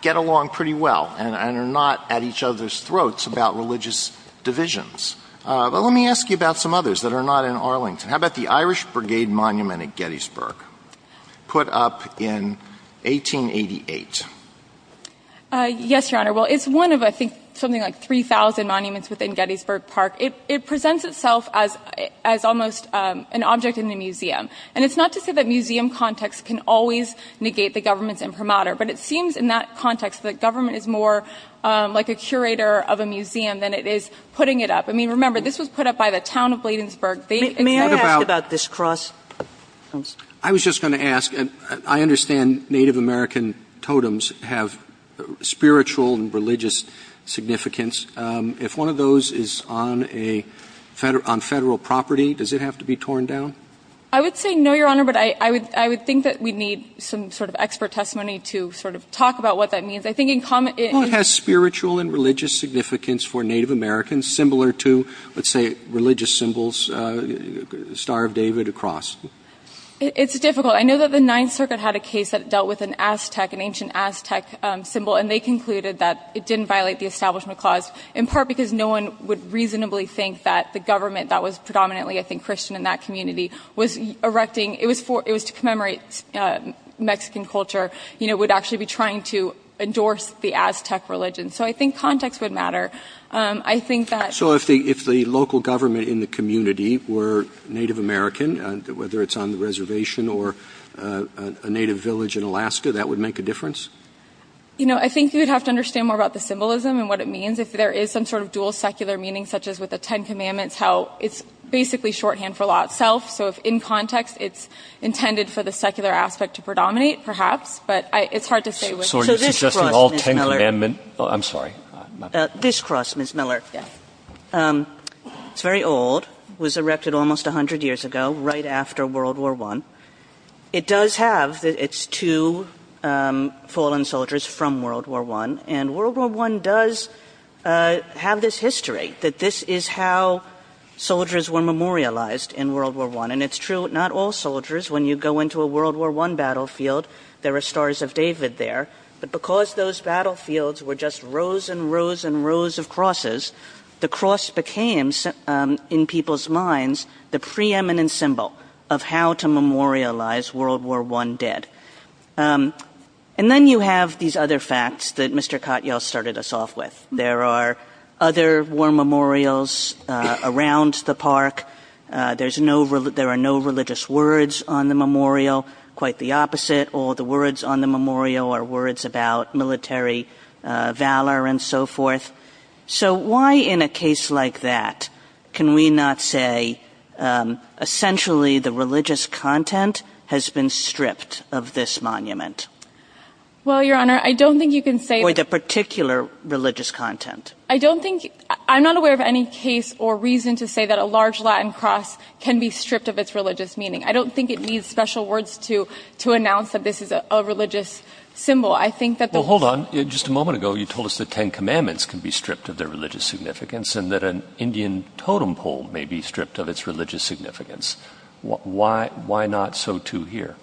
get along pretty well and are not at each other's throats about religious divisions. But let me ask you about some others that are not in Arlington. How about the Irish Brigade Monument at Gettysburg put up in 1888? Yes, Your Honor. Well, it's one of, I think, something like 3,000 monuments within Gettysburg Park. It presents itself as almost an object in the museum. And it's not to say that museum context can always negate the government's imprimatur, but it seems in that context that government is more like a curator of a museum than it is putting it up. I mean, remember, this was put up by the town of Bladensburg. May I ask about this cross? I was just going to ask, I understand Native American totems have spiritual and religious significance. If one of those is on federal property, does it have to be torn down? I would say no, Your Honor, but I would think that we'd need some sort of expert testimony to sort of talk about what that means. I think in common... Well, it has spiritual and religious significance for Native Americans similar to, let's say, religious symbols, Star of David, a cross. It's difficult. I know that the Ninth Circuit had a case that dealt with an Aztec, an ancient Aztec symbol, and they concluded that it didn't violate the Establishment Clause, in part because no one would reasonably think that the government that was predominantly, I think, Christian in that community was erecting, it was to commemorate Mexican culture, would actually be trying to endorse the Aztec religion. So I think context would matter. I think that... So if the local government in the community were Native American, whether it's on the reservation or a native village in Alaska, that would make a difference? You know, I think you'd have to understand more about the symbolism and what it means if there is some sort of dual secular meaning, such as with the Ten Commandments, how it's basically shorthand for lot self. So if in context, it's intended for the secular aspect to predominate, perhaps, but it's hard to say with... This cross, Ms. Miller, very old, was erected almost 100 years ago, right after World War I. It does have its two fallen soldiers from World War I, and World War I does have this history, that this is how soldiers were memorialized in World War I. And it's true, not all soldiers, when you go into a World War I battlefield, there are stars of David there, but because those battlefields were just rows and rows and rows of crosses, the cross became, in people's minds, the preeminent symbol of how to memorialize World War I dead. And then you have these other facts that Mr. Katyal started us off with. There are other war memorials around the park. There are no religious words on the memorial. Quite the opposite. All the words on the memorial are words about military valor and so forth. So why, in a case like that, can we not say, essentially, the religious content has been stripped of this monument? Well, Your Honor, I don't think you can say... Or the particular religious content. I don't think... I'm not aware of any case or reason to say that a large Latin cross can be stripped of its religious meaning. I don't think it needs special words to announce that this is a religious symbol. I think that... Well, hold on. Just a moment ago, you told us that Ten Commandments can be stripped of their religious significance and that an Indian totem pole may be stripped of its religious significance. Why not so, too, here?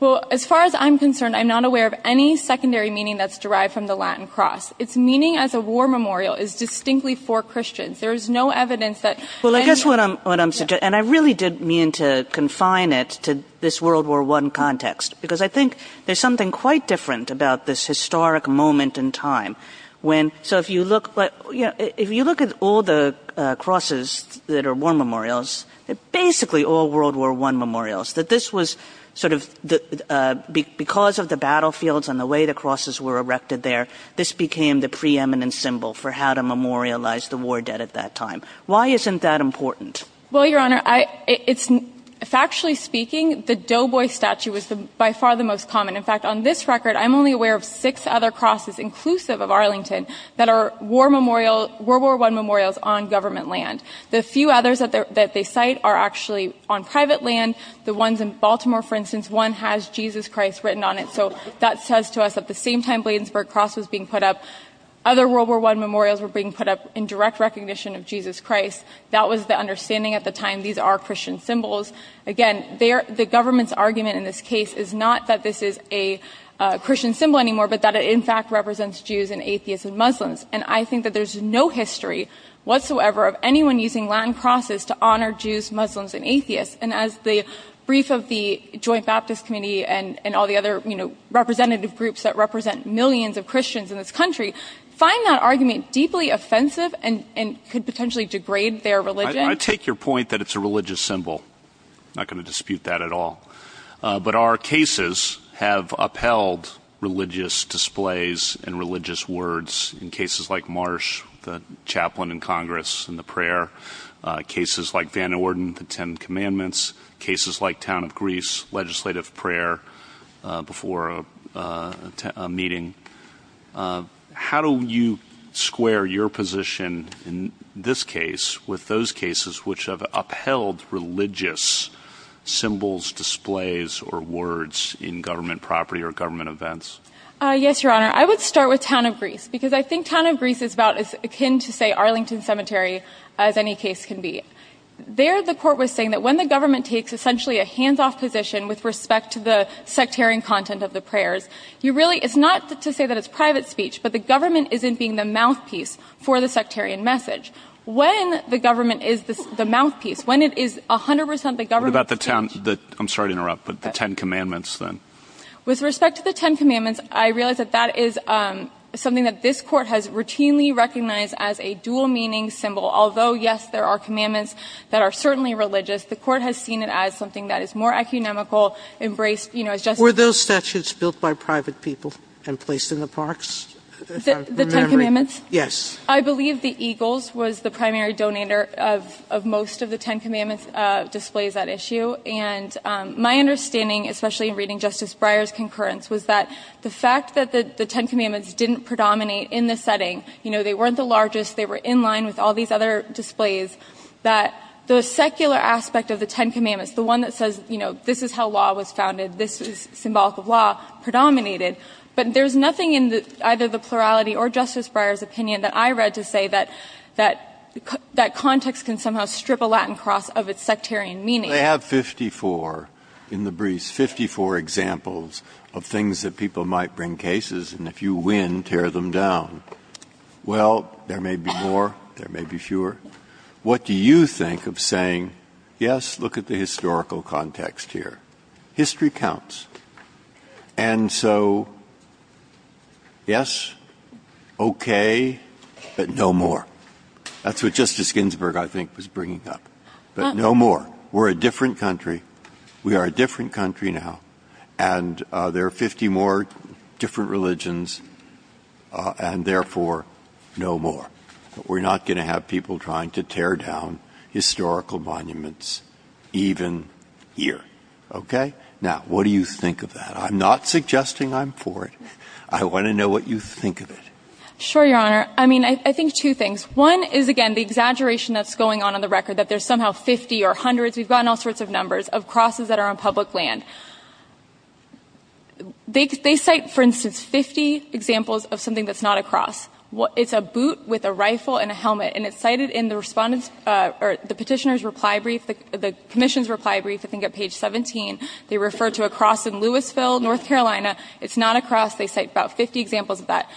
Well, as far as I'm concerned, I'm not aware of any secondary meaning that's derived from the Latin cross. Its meaning as a war memorial is distinctly for Christians. There is no evidence that... Well, I guess what I'm suggesting... ...to this World War I context, because I think there's something quite different about this historic moment in time when... So if you look at all the crosses that are war memorials, basically all World War I memorials, that this was sort of... Because of the battlefields and the way the crosses were erected there, this became the preeminent symbol for how to memorialize the war dead at that time. Why isn't that important? Well, Your Honor, factually speaking, the Doughboy statue was by far the most common. In fact, on this record, I'm only aware of six other crosses, inclusive of Arlington, that are World War I memorials on government land. The few others that they cite are actually on private land. The ones in Baltimore, for instance, one has Jesus Christ written on it. So that says to us at the same time Bladensburg Cross was being put up, other World War I memorials were being put up in direct recognition of Jesus Christ. That was the understanding at the time. These are Christian symbols. Again, the government's argument in this case is not that this is a Christian symbol anymore, but that it in fact represents Jews and atheists and Muslims. And I think that there's no history whatsoever of anyone using land crosses to honor Jews, Muslims, and atheists. And as the brief of the Joint Baptist Committee and all the other representative groups that represent millions of Christians in this country find that argument deeply offensive and could potentially degrade their religion. I take your point that it's a religious symbol. I'm not going to dispute that at all. But our cases have upheld religious displays and religious words in cases like Marsh, the chaplain in Congress and the prayer, cases like Van Orden, the Ten Commandments, cases like Town of Greece, legislative prayer before a meeting. How do you square your position in this case with those cases which have upheld religious symbols, displays, or words in government property or government events? Yes, Your Honor. I would start with Town of Greece because I think Town of Greece is about as akin to, say, Arlington Cemetery as any case can be. There the court was saying that when the government takes essentially a hands-off position with respect to the sectarian content of the prayers, it's not to say that it's private speech, but the government isn't being the mouthpiece for the sectarian message. When the government is the mouthpiece, when it is 100% the government... What about the Ten Commandments then? With respect to the Ten Commandments, I realize that that is something that this court has routinely recognized as a dual-meaning symbol. Although, yes, there are commandments that are certainly religious, the court has seen it as something that is more economical, Were those statutes built by private people and placed in the parks? The Ten Commandments? Yes. I believe the Eagles was the primary donator of most of the Ten Commandments displays at issue, and my understanding, especially in reading Justice Breyer's concurrence, was that the fact that the Ten Commandments didn't predominate in this setting, they weren't the largest, they were in line with all these other displays, that the secular aspect of the Ten Commandments, the one that says, you know, this is how law was founded, this is symbolic of law, predominated. But there's nothing in either the plurality or Justice Breyer's opinion that I read to say that context can somehow strip a Latin cross of its sectarian meaning. They have 54, in the briefs, 54 examples of things that people might bring cases, and if you win, tear them down. Well, there may be more, there may be fewer. What do you think of saying, yes, look at the historical context here. History counts. And so, yes, okay, but no more. That's what Justice Ginsburg, I think, was bringing up. But no more. We're a different country. We are a different country now, and there are 50 more different religions, and therefore, no more. We're not going to have people trying to tear down historical monuments, even here, okay? Now, what do you think of that? I'm not suggesting I'm for it. I want to know what you think of it. Sure, Your Honor. I mean, I think two things. One is, again, the exaggeration that's going on on the record that there's somehow 50 or hundreds, we've gotten all sorts of numbers, of crosses that are on public land. They cite, for instance, 50 examples of something that's not a cross. It's a boot with a rifle and a helmet, and it's cited in the petitioner's reply brief, the commission's reply brief, I think, at page 17. They refer to a cross in Louisville, North Carolina. It's not a cross. They cite about 50 examples of that.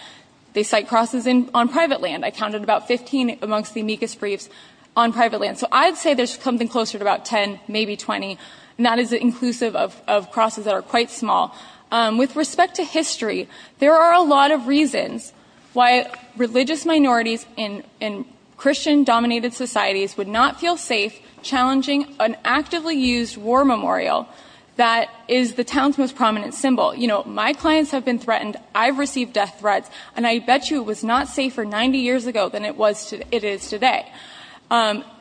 They cite crosses on private land. I counted about 15 amongst the amicus briefs on private land. So I'd say there's something closer to about 10, maybe 20, and that is inclusive of crosses that are quite small. With respect to history, there are a lot of reasons why religious minorities in Christian-dominated societies would not feel safe challenging an actively used war memorial that is the town's most prominent symbol. You know, my clients have been threatened. I've received death threats, and I bet you it was not safer 90 years ago than it is today.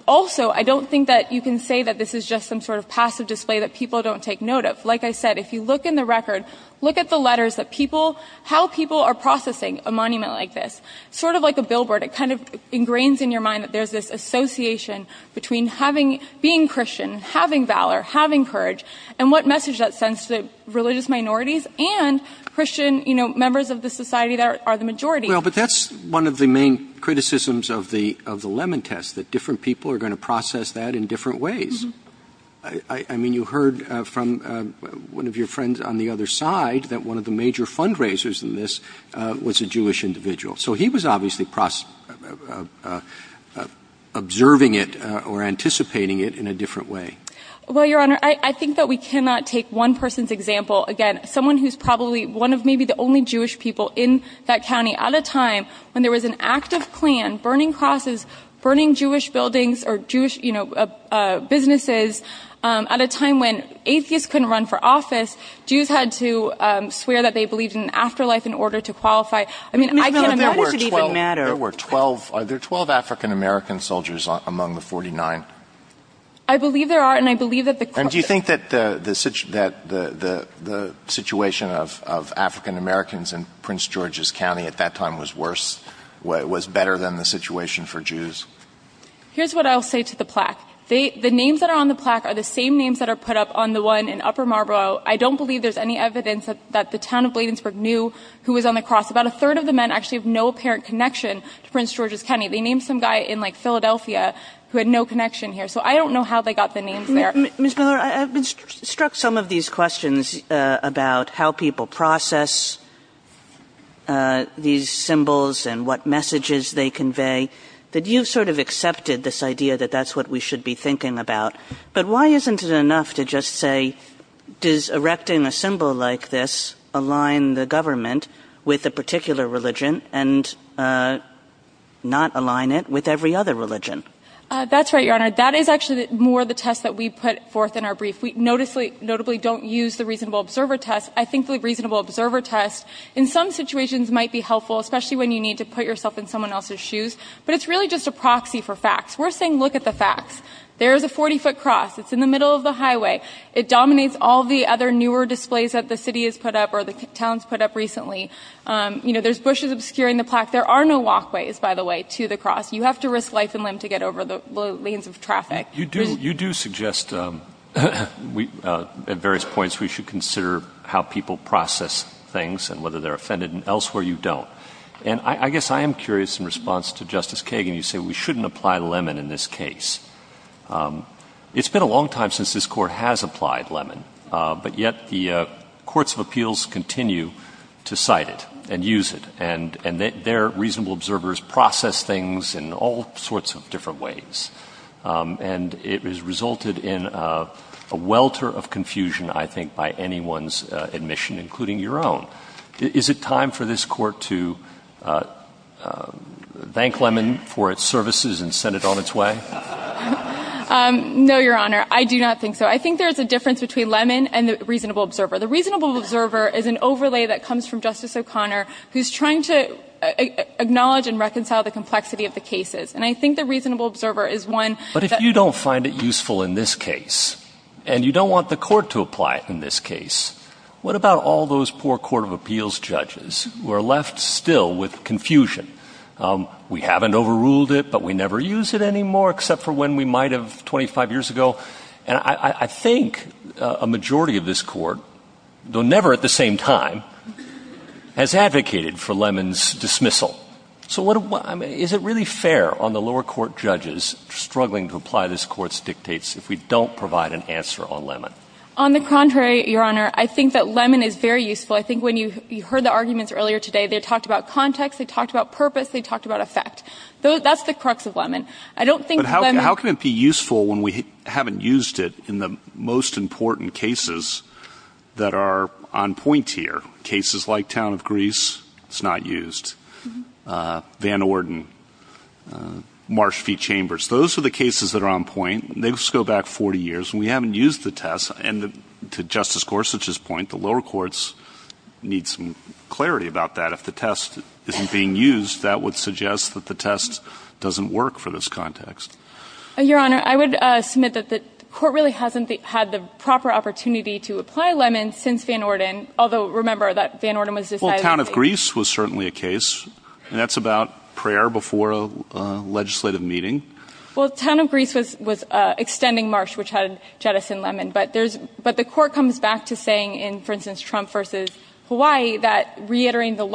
Also, I don't think that you can say that this is just some sort of passive display that people don't take note of. Like I said, if you look in the record, look at the letters, how people are processing a monument like this. Sort of like a billboard, it kind of ingrains in your mind that there's this association between being Christian, having valor, having courage, and what message that sends to religious minorities and Christian members of the society that are the majority. Well, but that's one of the main criticisms of the Lemon Test, that different people are going to process that in different ways. I mean, you heard from one of your friends on the other side that one of the major fundraisers in this was a Jewish individual. So he was obviously observing it or anticipating it in a different way. Well, Your Honor, I think that we cannot take one person's example. Again, someone who's probably one of maybe the only Jewish people in that county at a time when there was an active plan, burning houses, burning Jewish buildings or Jewish businesses at a time when atheists couldn't run for office. Jews had to swear that they believed in afterlife in order to qualify. I mean, I can't imagine today... There were 12. Are there 12 African-American soldiers among the 49? I believe there are, and I believe that the question... And do you think that the situation of African-Americans in Prince George's County at that time was worse, was better than the situation for Jews? Here's what I'll say to the plaque. The names that are on the plaque are the same names that are put up on the one in Upper Marlborough. I don't believe there's any evidence that the town of Bladensburg knew who was on the cross. About a third of the men actually have no apparent connection to Prince George's County. They named some guy in Philadelphia who had no connection here. So I don't know how they got the names there. Ms. Miller, I've been struck some of these questions about how people process these symbols and what messages they convey. But you sort of accepted this idea that that's what we should be thinking about. But why isn't it enough to just say, does erecting a symbol like this align the government with a particular religion and not align it with every other religion? That's right, Your Honor. That is actually more the test that we put forth in our brief. If we notably don't use the reasonable observer test, I think the reasonable observer test in some situations might be helpful, especially when you need to put yourself in someone else's shoes. But it's really just a proxy for facts. We're saying look at the facts. There's a 40-foot cross. It's in the middle of the highway. It dominates all the other newer displays that the city has put up or the town's put up recently. There's bushes obscuring the plaque. There are no walkways, by the way, to the cross. You have to risk life and limb to get over the lanes of traffic. You do suggest at various points we should consider how people process things and whether they're offended, and elsewhere you don't. And I guess I am curious in response to Justice Kagan, you say we shouldn't apply lemon in this case. It's been a long time since this Court has applied lemon, but yet the Courts of Appeals continue to cite it and use it, and their reasonable observers process things in all sorts of different ways. And it has resulted in a welter of confusion, I think, by anyone's admission, including your own. Is it time for this Court to thank lemon for its services and send it on its way? No, Your Honor, I do not think so. I think there's a difference between lemon and the reasonable observer. The reasonable observer is an overlay that comes from Justice O'Connor who's trying to acknowledge and reconcile the complexity of the cases. And I think the reasonable observer is one that— But if you don't find it useful in this case, and you don't want the Court to apply it in this case, what about all those poor Court of Appeals judges who are left still with confusion? We haven't overruled it, but we never use it anymore, except for when we might have 25 years ago. And I think a majority of this Court, though never at the same time, has advocated for lemon's dismissal. So is it really fair on the lower court judges struggling to apply this Court's dictates if we don't provide an answer on lemon? On the contrary, Your Honor, I think that lemon is very useful. I think when you heard the arguments earlier today, they talked about context, they talked about purpose, they talked about effect. That's the crux of lemon. But how can it be useful when we haven't used it in the most important cases that are on point here? Cases like Town of Greece, it's not used. Van Orden, Marsh v. Chambers, those are the cases that are on point. They just go back 40 years, and we haven't used the test. And to Justice Gorsuch's point, the lower courts need some clarity about that. If the test isn't being used, that would suggest that the test doesn't work for this context. Your Honor, I would submit that the Court really hasn't had the proper opportunity to apply lemon since Van Orden, although remember that Van Orden was decidedly— Well, Town of Greece was certainly a case, and that's about prayer before a legislative meeting. Well, Town of Greece was extending Marsh, which had jettisoned lemon. But the Court comes back to saying in, for instance, Trump v. Hawaii, that—reiterating the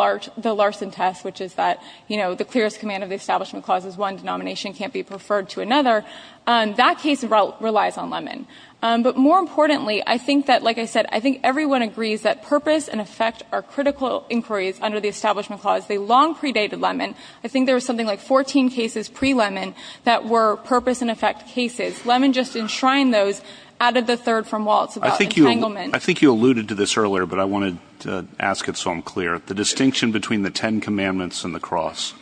Larson test, which is that the clearest command of the Establishment Clause is one denomination and can't be preferred to another— that case relies on lemon. But more importantly, I think that, like I said, I think everyone agrees that purpose and effect are critical inquiries under the Establishment Clause. They long predated lemon. I think there was something like 14 cases pre-lemon that were purpose and effect cases. Lemon just enshrined those out of the third from Waltz about entanglement. I think you alluded to this earlier, but I wanted to ask it so I'm clear. The distinction between the Ten Commandments and the cross?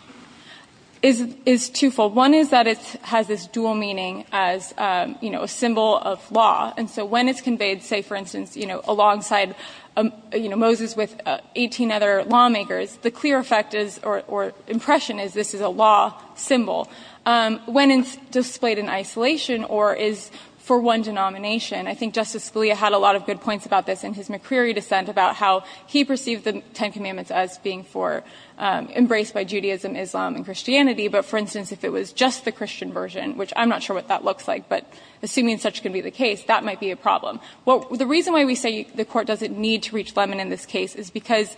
It's twofold. One is that it has this dual meaning as a symbol of law. And so when it's conveyed, say, for instance, alongside Moses with 18 other lawmakers, the clear effect is, or impression is, this is a law symbol. When it's displayed in isolation or is for one denomination, I think Justice Scalia had a lot of good points about this in his McCreary dissent about how he perceived the Ten Commandments as being for—embraced by Judaism, Islam, and Christianity. But, for instance, if it was just the Christian version, which I'm not sure what that looks like, but assuming such can be the case, that might be a problem. The reason why we say the court doesn't need to reach lemon in this case is because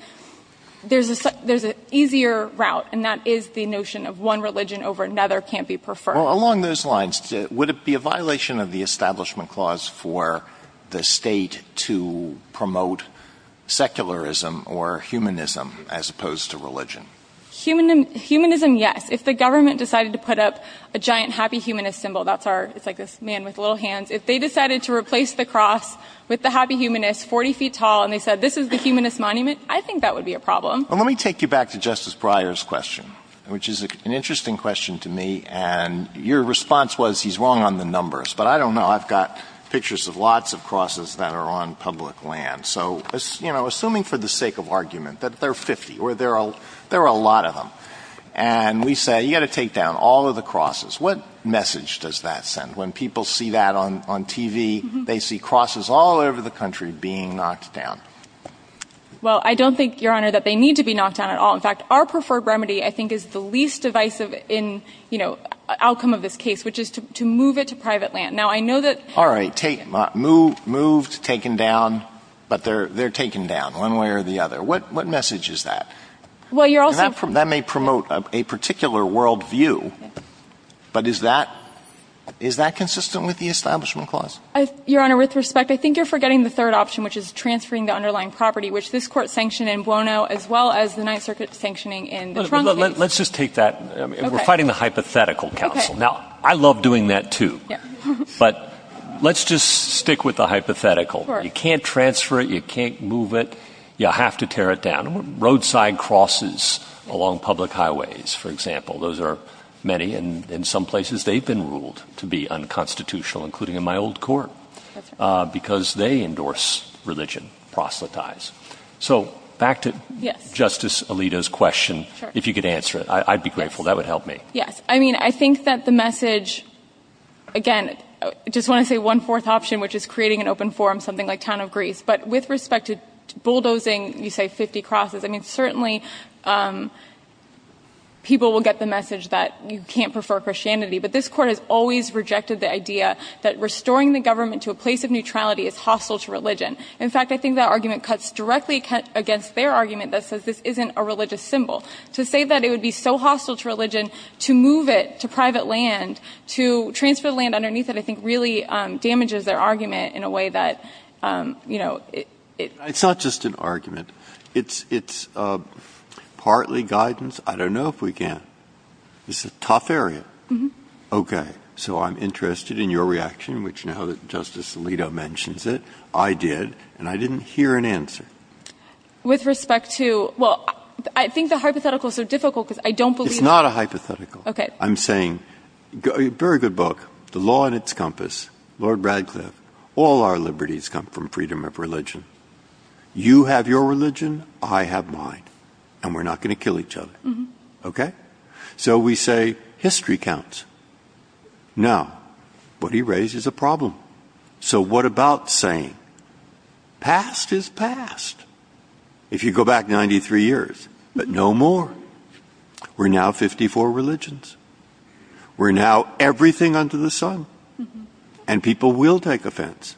there's an easier route, and that is the notion of one religion over another can't be preferred. Well, along those lines, would it be a violation of the Establishment Clause for the state to promote secularism or humanism as opposed to religion? Humanism, yes. If the government decided to put up a giant happy humanist symbol—it's like this man with little hands—if they decided to replace the cross with the happy humanist, 40 feet tall, and they said, this is the humanist monument, I think that would be a problem. Let me take you back to Justice Breyer's question, which is an interesting question to me. And your response was, he's wrong on the numbers. But I don't know. I've got pictures of lots of crosses that are on public land. Assuming for the sake of argument that there are 50, or there are a lot of them, and we say, you've got to take down all of the crosses, what message does that send? When people see that on TV, they see crosses all over the country being knocked down. Well, I don't think, Your Honor, that they need to be knocked down at all. In fact, our preferred remedy, I think, is the least divisive outcome of this case, which is to move it to private land. All right, moved, taken down, but they're taken down, one way or the other. What message is that? That may promote a particular worldview, but is that consistent with the Establishment Clause? Your Honor, with respect, I think you're forgetting the third option, which is transferring the underlying property, which this Court sanctioned in Buono, as well as the Ninth Circuit's sanctioning in— Let's just take that—we're fighting the hypothetical, counsel. Now, I love doing that too. But let's just stick with the hypothetical. You can't transfer it, you can't move it, you have to tear it down. Roadside crosses along public highways, for example, those are many, and in some places they've been ruled to be unconstitutional, including in my old court, because they endorse religion, proselytize. So, back to Justice Alito's question, if you could answer it, I'd be grateful, that would help me. Yes, I mean, I think that the message—again, I just want to say one fourth option, which is creating an open forum, something like Town of Greece. But with respect to bulldozing, you say, 50 crosses, I mean, certainly people will get the message that you can't prefer Christianity. But this Court has always rejected the idea that restoring the government to a place of neutrality is hostile to religion. In fact, I think that argument cuts directly against their argument that says this isn't a religious symbol. To say that it would be so hostile to religion, to move it to private land, to transfer land underneath it, I think really damages their argument in a way that, you know— It's not just an argument. It's partly guidance. I don't know if we can. It's a tough area. Okay, so I'm interested in your reaction, which now that Justice Alito mentions it, I did, and I didn't hear an answer. With respect to—well, I think the hypotheticals are difficult because I don't believe— It's not a hypothetical. I'm saying—a very good book, The Law and Its Compass, Lord Radcliffe, all our liberties come from freedom of religion. You have your religion. I have mine. And we're not going to kill each other. Okay? So we say history counts. Now, what he raises is a problem. So what about saying past is past? If you go back 93 years, but no more. We're now 54 religions. We're now everything under the sun. And people will take offense.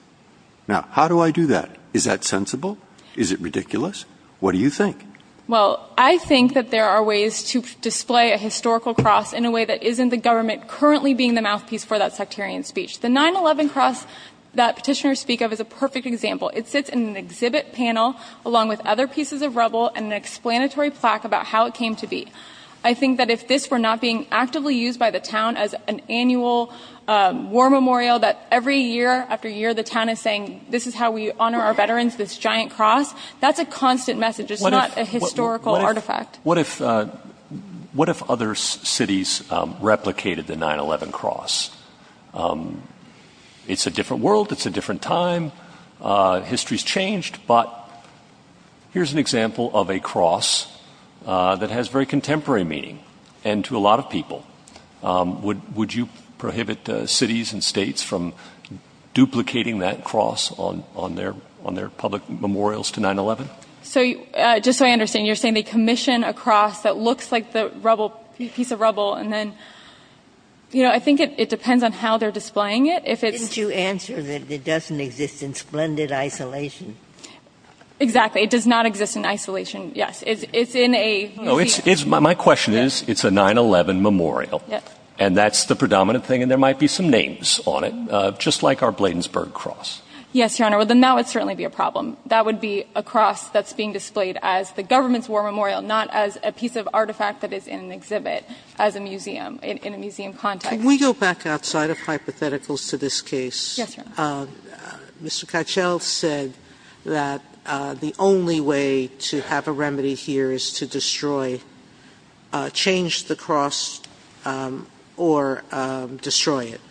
Now, how do I do that? Is that sensible? Is it ridiculous? What do you think? Well, I think that there are ways to display a historical cross in a way that isn't the government currently being the mouthpiece for that sectarian speech. The 9-11 cross that petitioners speak of is a perfect example. It sits in an exhibit panel along with other pieces of rubble and an explanatory plaque about how it came to be. I think that if this were not being actively used by the town as an annual war memorial that every year after year the town is saying, this is how we honor our veterans, this giant cross. That's a constant message. It's not a historical artifact. What if other cities replicated the 9-11 cross? It's a different world. It's a different time. History's changed. But here's an example of a cross that has very contemporary meaning and to a lot of people. Would you prohibit cities and states from duplicating that cross on their public memorials to 9-11? So, just so I understand, you're saying they commission a cross that looks like a piece of rubble and then... I think it depends on how they're displaying it. Didn't you answer that it doesn't exist in splendid isolation? Exactly. It does not exist in isolation, yes. My question is, it's a 9-11 memorial and that's the predominant thing and there might be some names on it, just like our Bladensburg cross. Yes, Your Honor. Now it would certainly be a problem. That would be a cross that's being displayed as the government's war memorial, not as a piece of artifact that is in an exhibit in a museum context. Can we go back outside of hypotheticals to this case? Yes, Your Honor. Mr. Cachal said that the only way to have a remedy here is to destroy, change the cross or destroy it.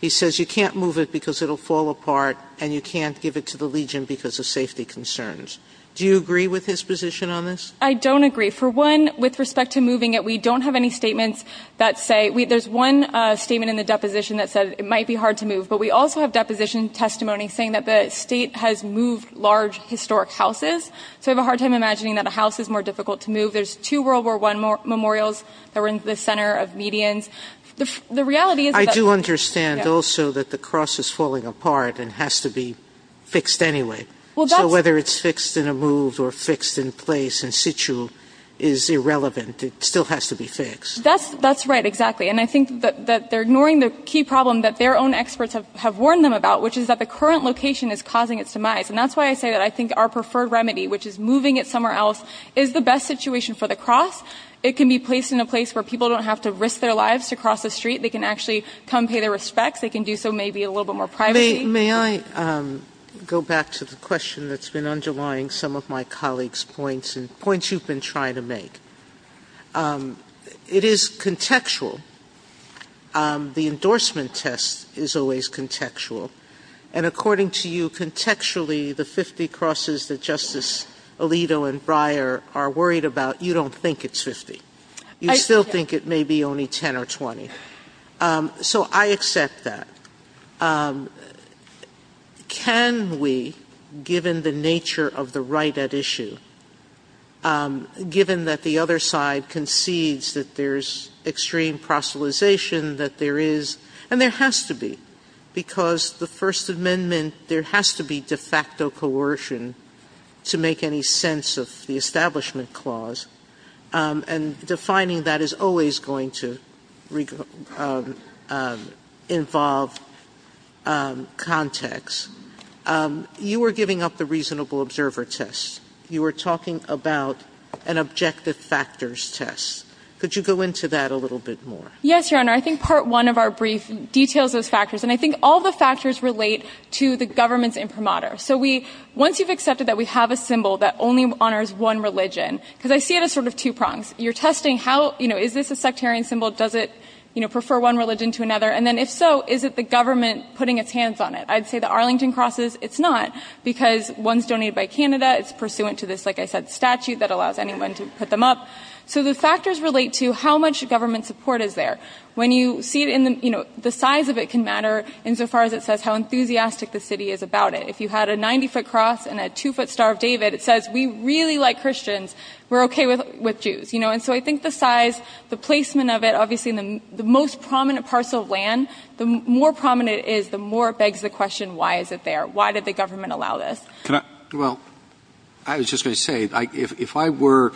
He says you can't move it because it'll fall apart and you can't give it to the Legion because of safety concerns. Do you agree with his position on this? I don't agree. For one, with respect to moving it, we don't have any statements that say... There's one statement in the deposition that says it might be hard to move. But we also have deposition testimony saying that the state has moved large historic houses. So I have a hard time imagining that a house is more difficult to move. There's two World War I memorials that were in the center of medians. The reality is... I do understand also that the cross is falling apart and has to be fixed anyway. So whether it's fixed in a move or fixed in place in situ is irrelevant. It still has to be fixed. That's right, exactly. And I think that they're ignoring the key problem that their own experts have warned them about, which is that the current location is causing its demise. And that's why I say that I think our preferred remedy, which is moving it somewhere else, is the best situation for the cross. It can be placed in a place where people don't have to risk their lives to cross the street. They can actually come pay their respects. They can do so maybe a little bit more privately. May I go back to the question that's been underlying some of my colleagues' points and points you've been trying to make? It is contextual. The endorsement test is always contextual. And according to you, contextually, the 50 crosses that Justice Alito and Breyer are worried about, you don't think it's 50. You still think it may be only 10 or 20. So I accept that. Can we, given the nature of the right at issue, given that the other side concedes that there's extreme proselytization, that there is, and there has to be, because the First Amendment, there has to be de facto coercion to make any sense of the Establishment Clause. And defining that is always going to involve context. You are giving up the reasonable observer test. You were talking about an objective factors test. Could you go into that a little bit more? Yes, Your Honor. I think Part 1 of our brief details those factors. And I think all the factors relate to the government's imprimatur. So once you've accepted that we have a symbol that only honors one religion, because I see it as sort of two prongs. You're testing how, you know, is this a sectarian symbol? Does it, you know, prefer one religion to another? And then if so, is it the government putting its hands on it? I'd say the Arlington crosses, it's not, because one's donated by Canada. It's pursuant to this, like I said, statute that allows anyone to put them up. So the factors relate to how much government support is there. When you see it in the, you know, the size of it can matter insofar as it says how enthusiastic the city is about it. If you had a 90-foot cross and a two-foot Star of David, it says we really like Christians. We're okay with Jews. You know, and so I think the size, the placement of it, obviously in the most prominent parts of land, the more prominent it is, the more it begs the question, why is it there? Why did the government allow this? Well, I was just going to say, if I were,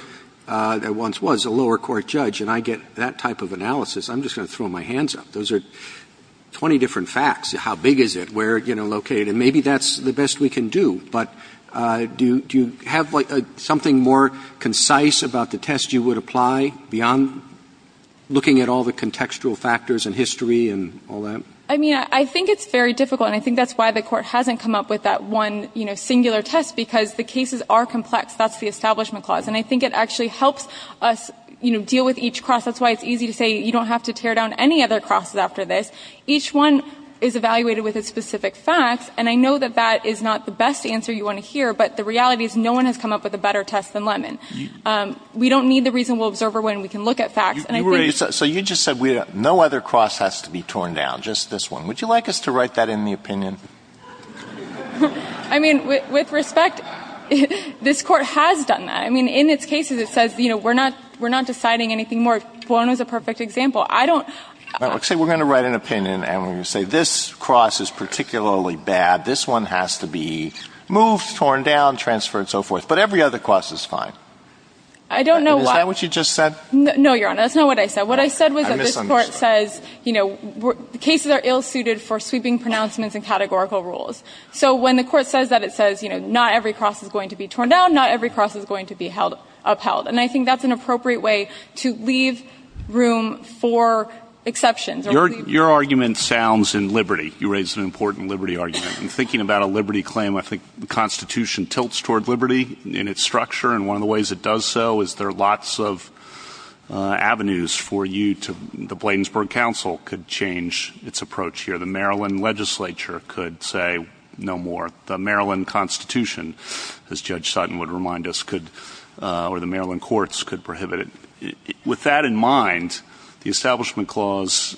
and once was, a lower court judge and I get that type of analysis, I'm just going to throw my hands up. Those are 20 different facts. How big is it? Where, you know, located? And maybe that's the best we can do. But do you have something more concise about the test you would apply beyond looking at all the contextual factors and history and all that? I mean, I think it's very difficult, and I think that's why the court hasn't come up with that one singular test, because the cases are complex. That's the Establishment Clause, and I think it actually helps us deal with each cross. That's why it's easy to say you don't have to tear down any other crosses after this. Each one is evaluated with a specific fact, and I know that that is not the best answer you want to hear, but the reality is no one has come up with a better test than Lemon. We don't need the reasonable observer when we can look at facts. So you just said no other cross has to be torn down, just this one. Would you like us to write that in the opinion? I mean, with respect, this court has done that. I mean, in its cases it says, you know, we're not deciding anything more. This one was a perfect example. Let's say we're going to write an opinion, and we're going to say this cross is particularly bad. This one has to be moved, torn down, transferred, and so forth. But every other cross is fine. Is that what you just said? No, Your Honor, that's not what I said. What I said was that this court says, you know, cases are ill-suited for sweeping pronouncements and categorical rules. So when the court says that, it says, you know, not every cross is going to be torn down, not every cross is going to be upheld. And I think that's an appropriate way to leave room for exceptions. Your argument sounds in liberty. You raised an important liberty argument. In thinking about a liberty claim, I think the Constitution tilts toward liberty in its structure, and one of the ways it does so is there are lots of avenues for you. The Bladensburg Council could change its approach here. The Maryland legislature could say no more. The Maryland Constitution, as Judge Sutton would remind us, or the Maryland courts could prohibit it. With that in mind, the Establishment Clause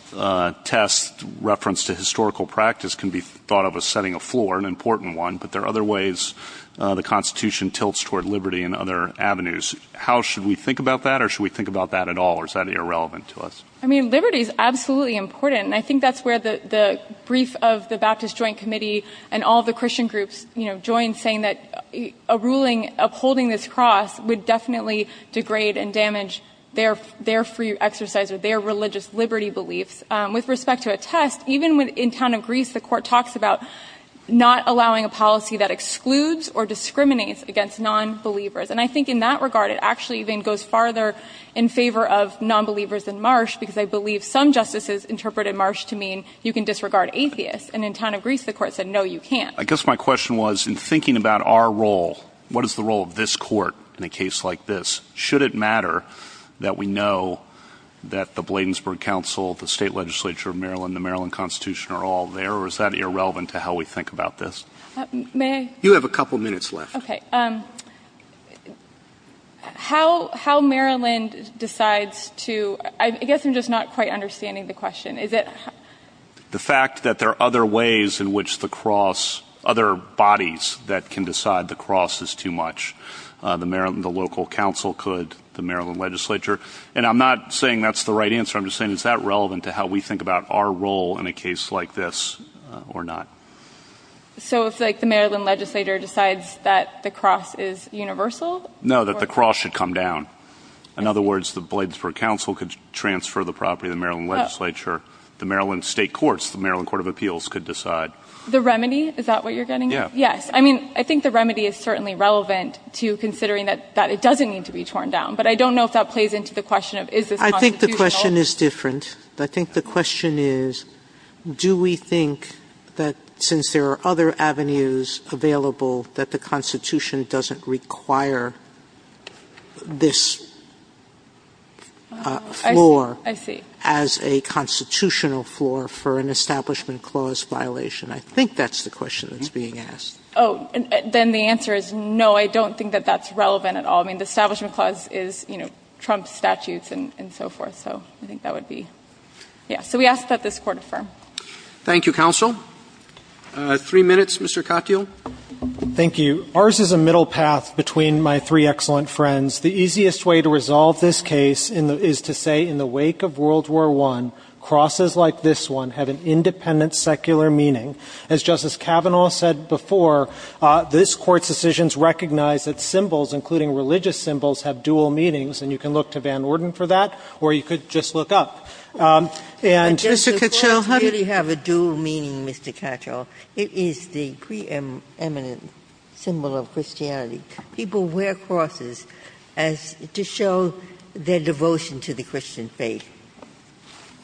test reference to historical practice can be thought of as setting a floor, an important one, but there are other ways the Constitution tilts toward liberty and other avenues. How should we think about that, or should we think about that at all, or is that irrelevant to us? I mean, liberty is absolutely important, and I think that's where the brief of the Baptist Joint Committee and all the Christian groups, you know, joined saying that a ruling upholding this cross would definitely degrade and damage their free exercise of their religious liberty beliefs. With respect to a test, even in town of Greece, the court talks about not allowing a policy that excludes or discriminates against nonbelievers, and I think in that regard it actually even goes farther in favor of nonbelievers in Marsh because I believe some justices interpreted Marsh to mean you can disregard atheists, and in town of Greece the court said no, you can't. I guess my question was in thinking about our role, what is the role of this court in a case like this? Should it matter that we know that the Bladensburg Council, the state legislature of Maryland, the Maryland Constitution are all there, or is that irrelevant to how we think about this? May I? You have a couple minutes left. Okay. How Maryland decides to, I guess I'm just not quite understanding the question. The fact that there are other ways in which the cross, other bodies that can decide the cross is too much. The local council could, the Maryland legislature, and I'm not saying that's the right answer, I'm just saying is that relevant to how we think about our role in a case like this or not? So it's like the Maryland legislator decides that the cross is universal? No, that the cross should come down. In other words, the Bladensburg Council could transfer the property to the Maryland legislature, the Maryland state courts, the Maryland Court of Appeals could decide. The remedy, is that what you're getting at? Yes. I mean, I think the remedy is certainly relevant to considering that it doesn't need to be torn down, but I don't know if that plays into the question of is this constitutional. I think the question is different. I think the question is, do we think that since there are other avenues available, that the Constitution doesn't require this floor as a constitutional floor for an establishment clause violation? I think that's the question that's being asked. Oh, then the answer is no, I don't think that that's relevant at all. I mean, the establishment clause is Trump's statutes and so forth, so I think that would be, yeah. So we ask that this Court affirm. Thank you, Counsel. Three minutes, Mr. Katyal. Thank you. Ours is a middle path between my three excellent friends. The easiest way to resolve this case is to say in the wake of World War I, crosses like this one have an independent secular meaning. As Justice Kavanaugh said before, this Court's decisions recognize that symbols, including religious symbols, have dual meanings. And you can look to Van Orden for that, or you could just look up. And Mr. Katyal, how do you – It doesn't really have a dual meaning, Mr. Katyal. It is the preeminent symbol of Christianity. People wear crosses to show their devotion to the Christian faith.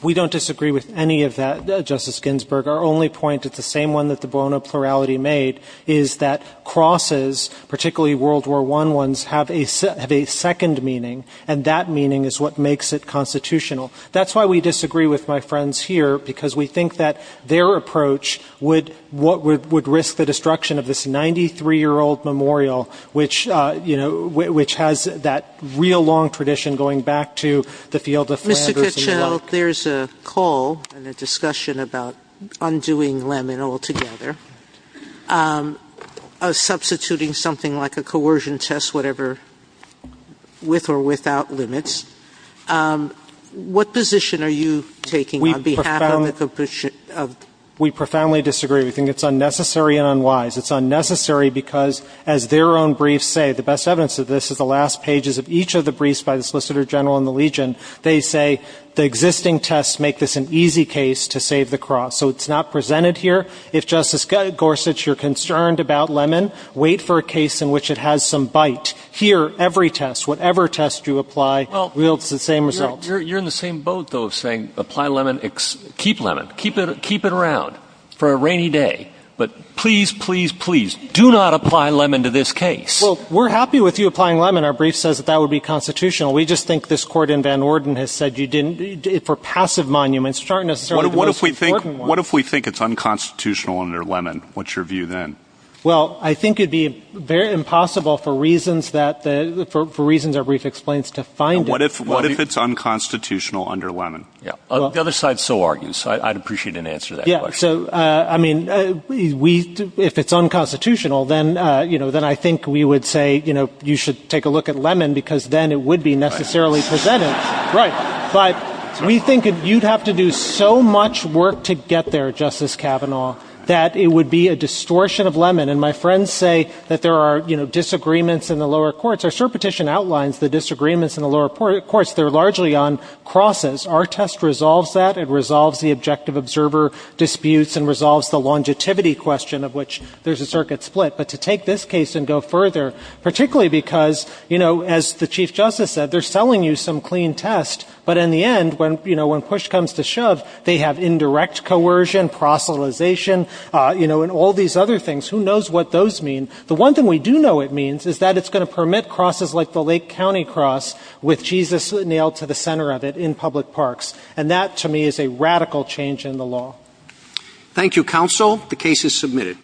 We don't disagree with any of that, Justice Ginsburg. Our only point is the same one that the Bono plurality made, is that crosses, particularly World War I ones, have a second meaning, and that meaning is what makes it constitutional. That's why we disagree with my friends here, because we think that their approach would risk the destruction of this 93-year-old memorial, which has that real long tradition going back to the field of Flanders. Mr. Katyal, there's a call and a discussion about undoing Lehman altogether, substituting something like a coercion test, whatever, with or without limits. What position are you taking on behalf of – We profoundly disagree. We think it's unnecessary and unwise. It's unnecessary because, as their own briefs say, the best evidence of this is the last pages of each of the briefs by the Solicitor General and the Legion. They say the existing tests make this an easy case to save the cross. So it's not presented here. If, Justice Gorsuch, you're concerned about Lehman, wait for a case in which it has some bite. Here, every test, whatever test you apply, yields the same result. You're in the same boat, though, of saying, apply Lehman, keep Lehman, keep it around for a rainy day. But please, please, please do not apply Lehman to this case. Well, we're happy with you applying Lehman. Our brief says that that would be constitutional. We just think this court in Van Orden has said you didn't – for passive monuments, it's not necessarily the most important one. What if we think it's unconstitutional under Lehman? What's your view then? Well, I think it would be very impossible for reasons that – for reasons our brief explains to find it. What if it's unconstitutional under Lehman? The other side so argues. I'd appreciate an answer to that question. Yeah, so, I mean, if it's unconstitutional, then I think we would say you should take a look at Lehman because then it would be necessarily presented. Right. But we think you'd have to do so much work to get there, Justice Kavanaugh, that it would be a distortion of Lehman. And my friends say that there are, you know, disagreements in the lower courts. Our cert petition outlines the disagreements in the lower courts. They're largely on crosses. Our test resolves that. It resolves the objective observer disputes and resolves the longevity question of which there's a circuit split. But to take this case and go further, particularly because, you know, as the Chief Justice said, they're selling you some clean test, but in the end, you know, when push comes to shove, they have indirect coercion, proselytization, you know, and all these other things. Who knows what those mean? The one thing we do know it means is that it's going to permit crosses like the Lake County Cross with Jesus nailed to the center of it in public parks. And that, to me, is a radical change in the law. Thank you, counsel. The case is submitted.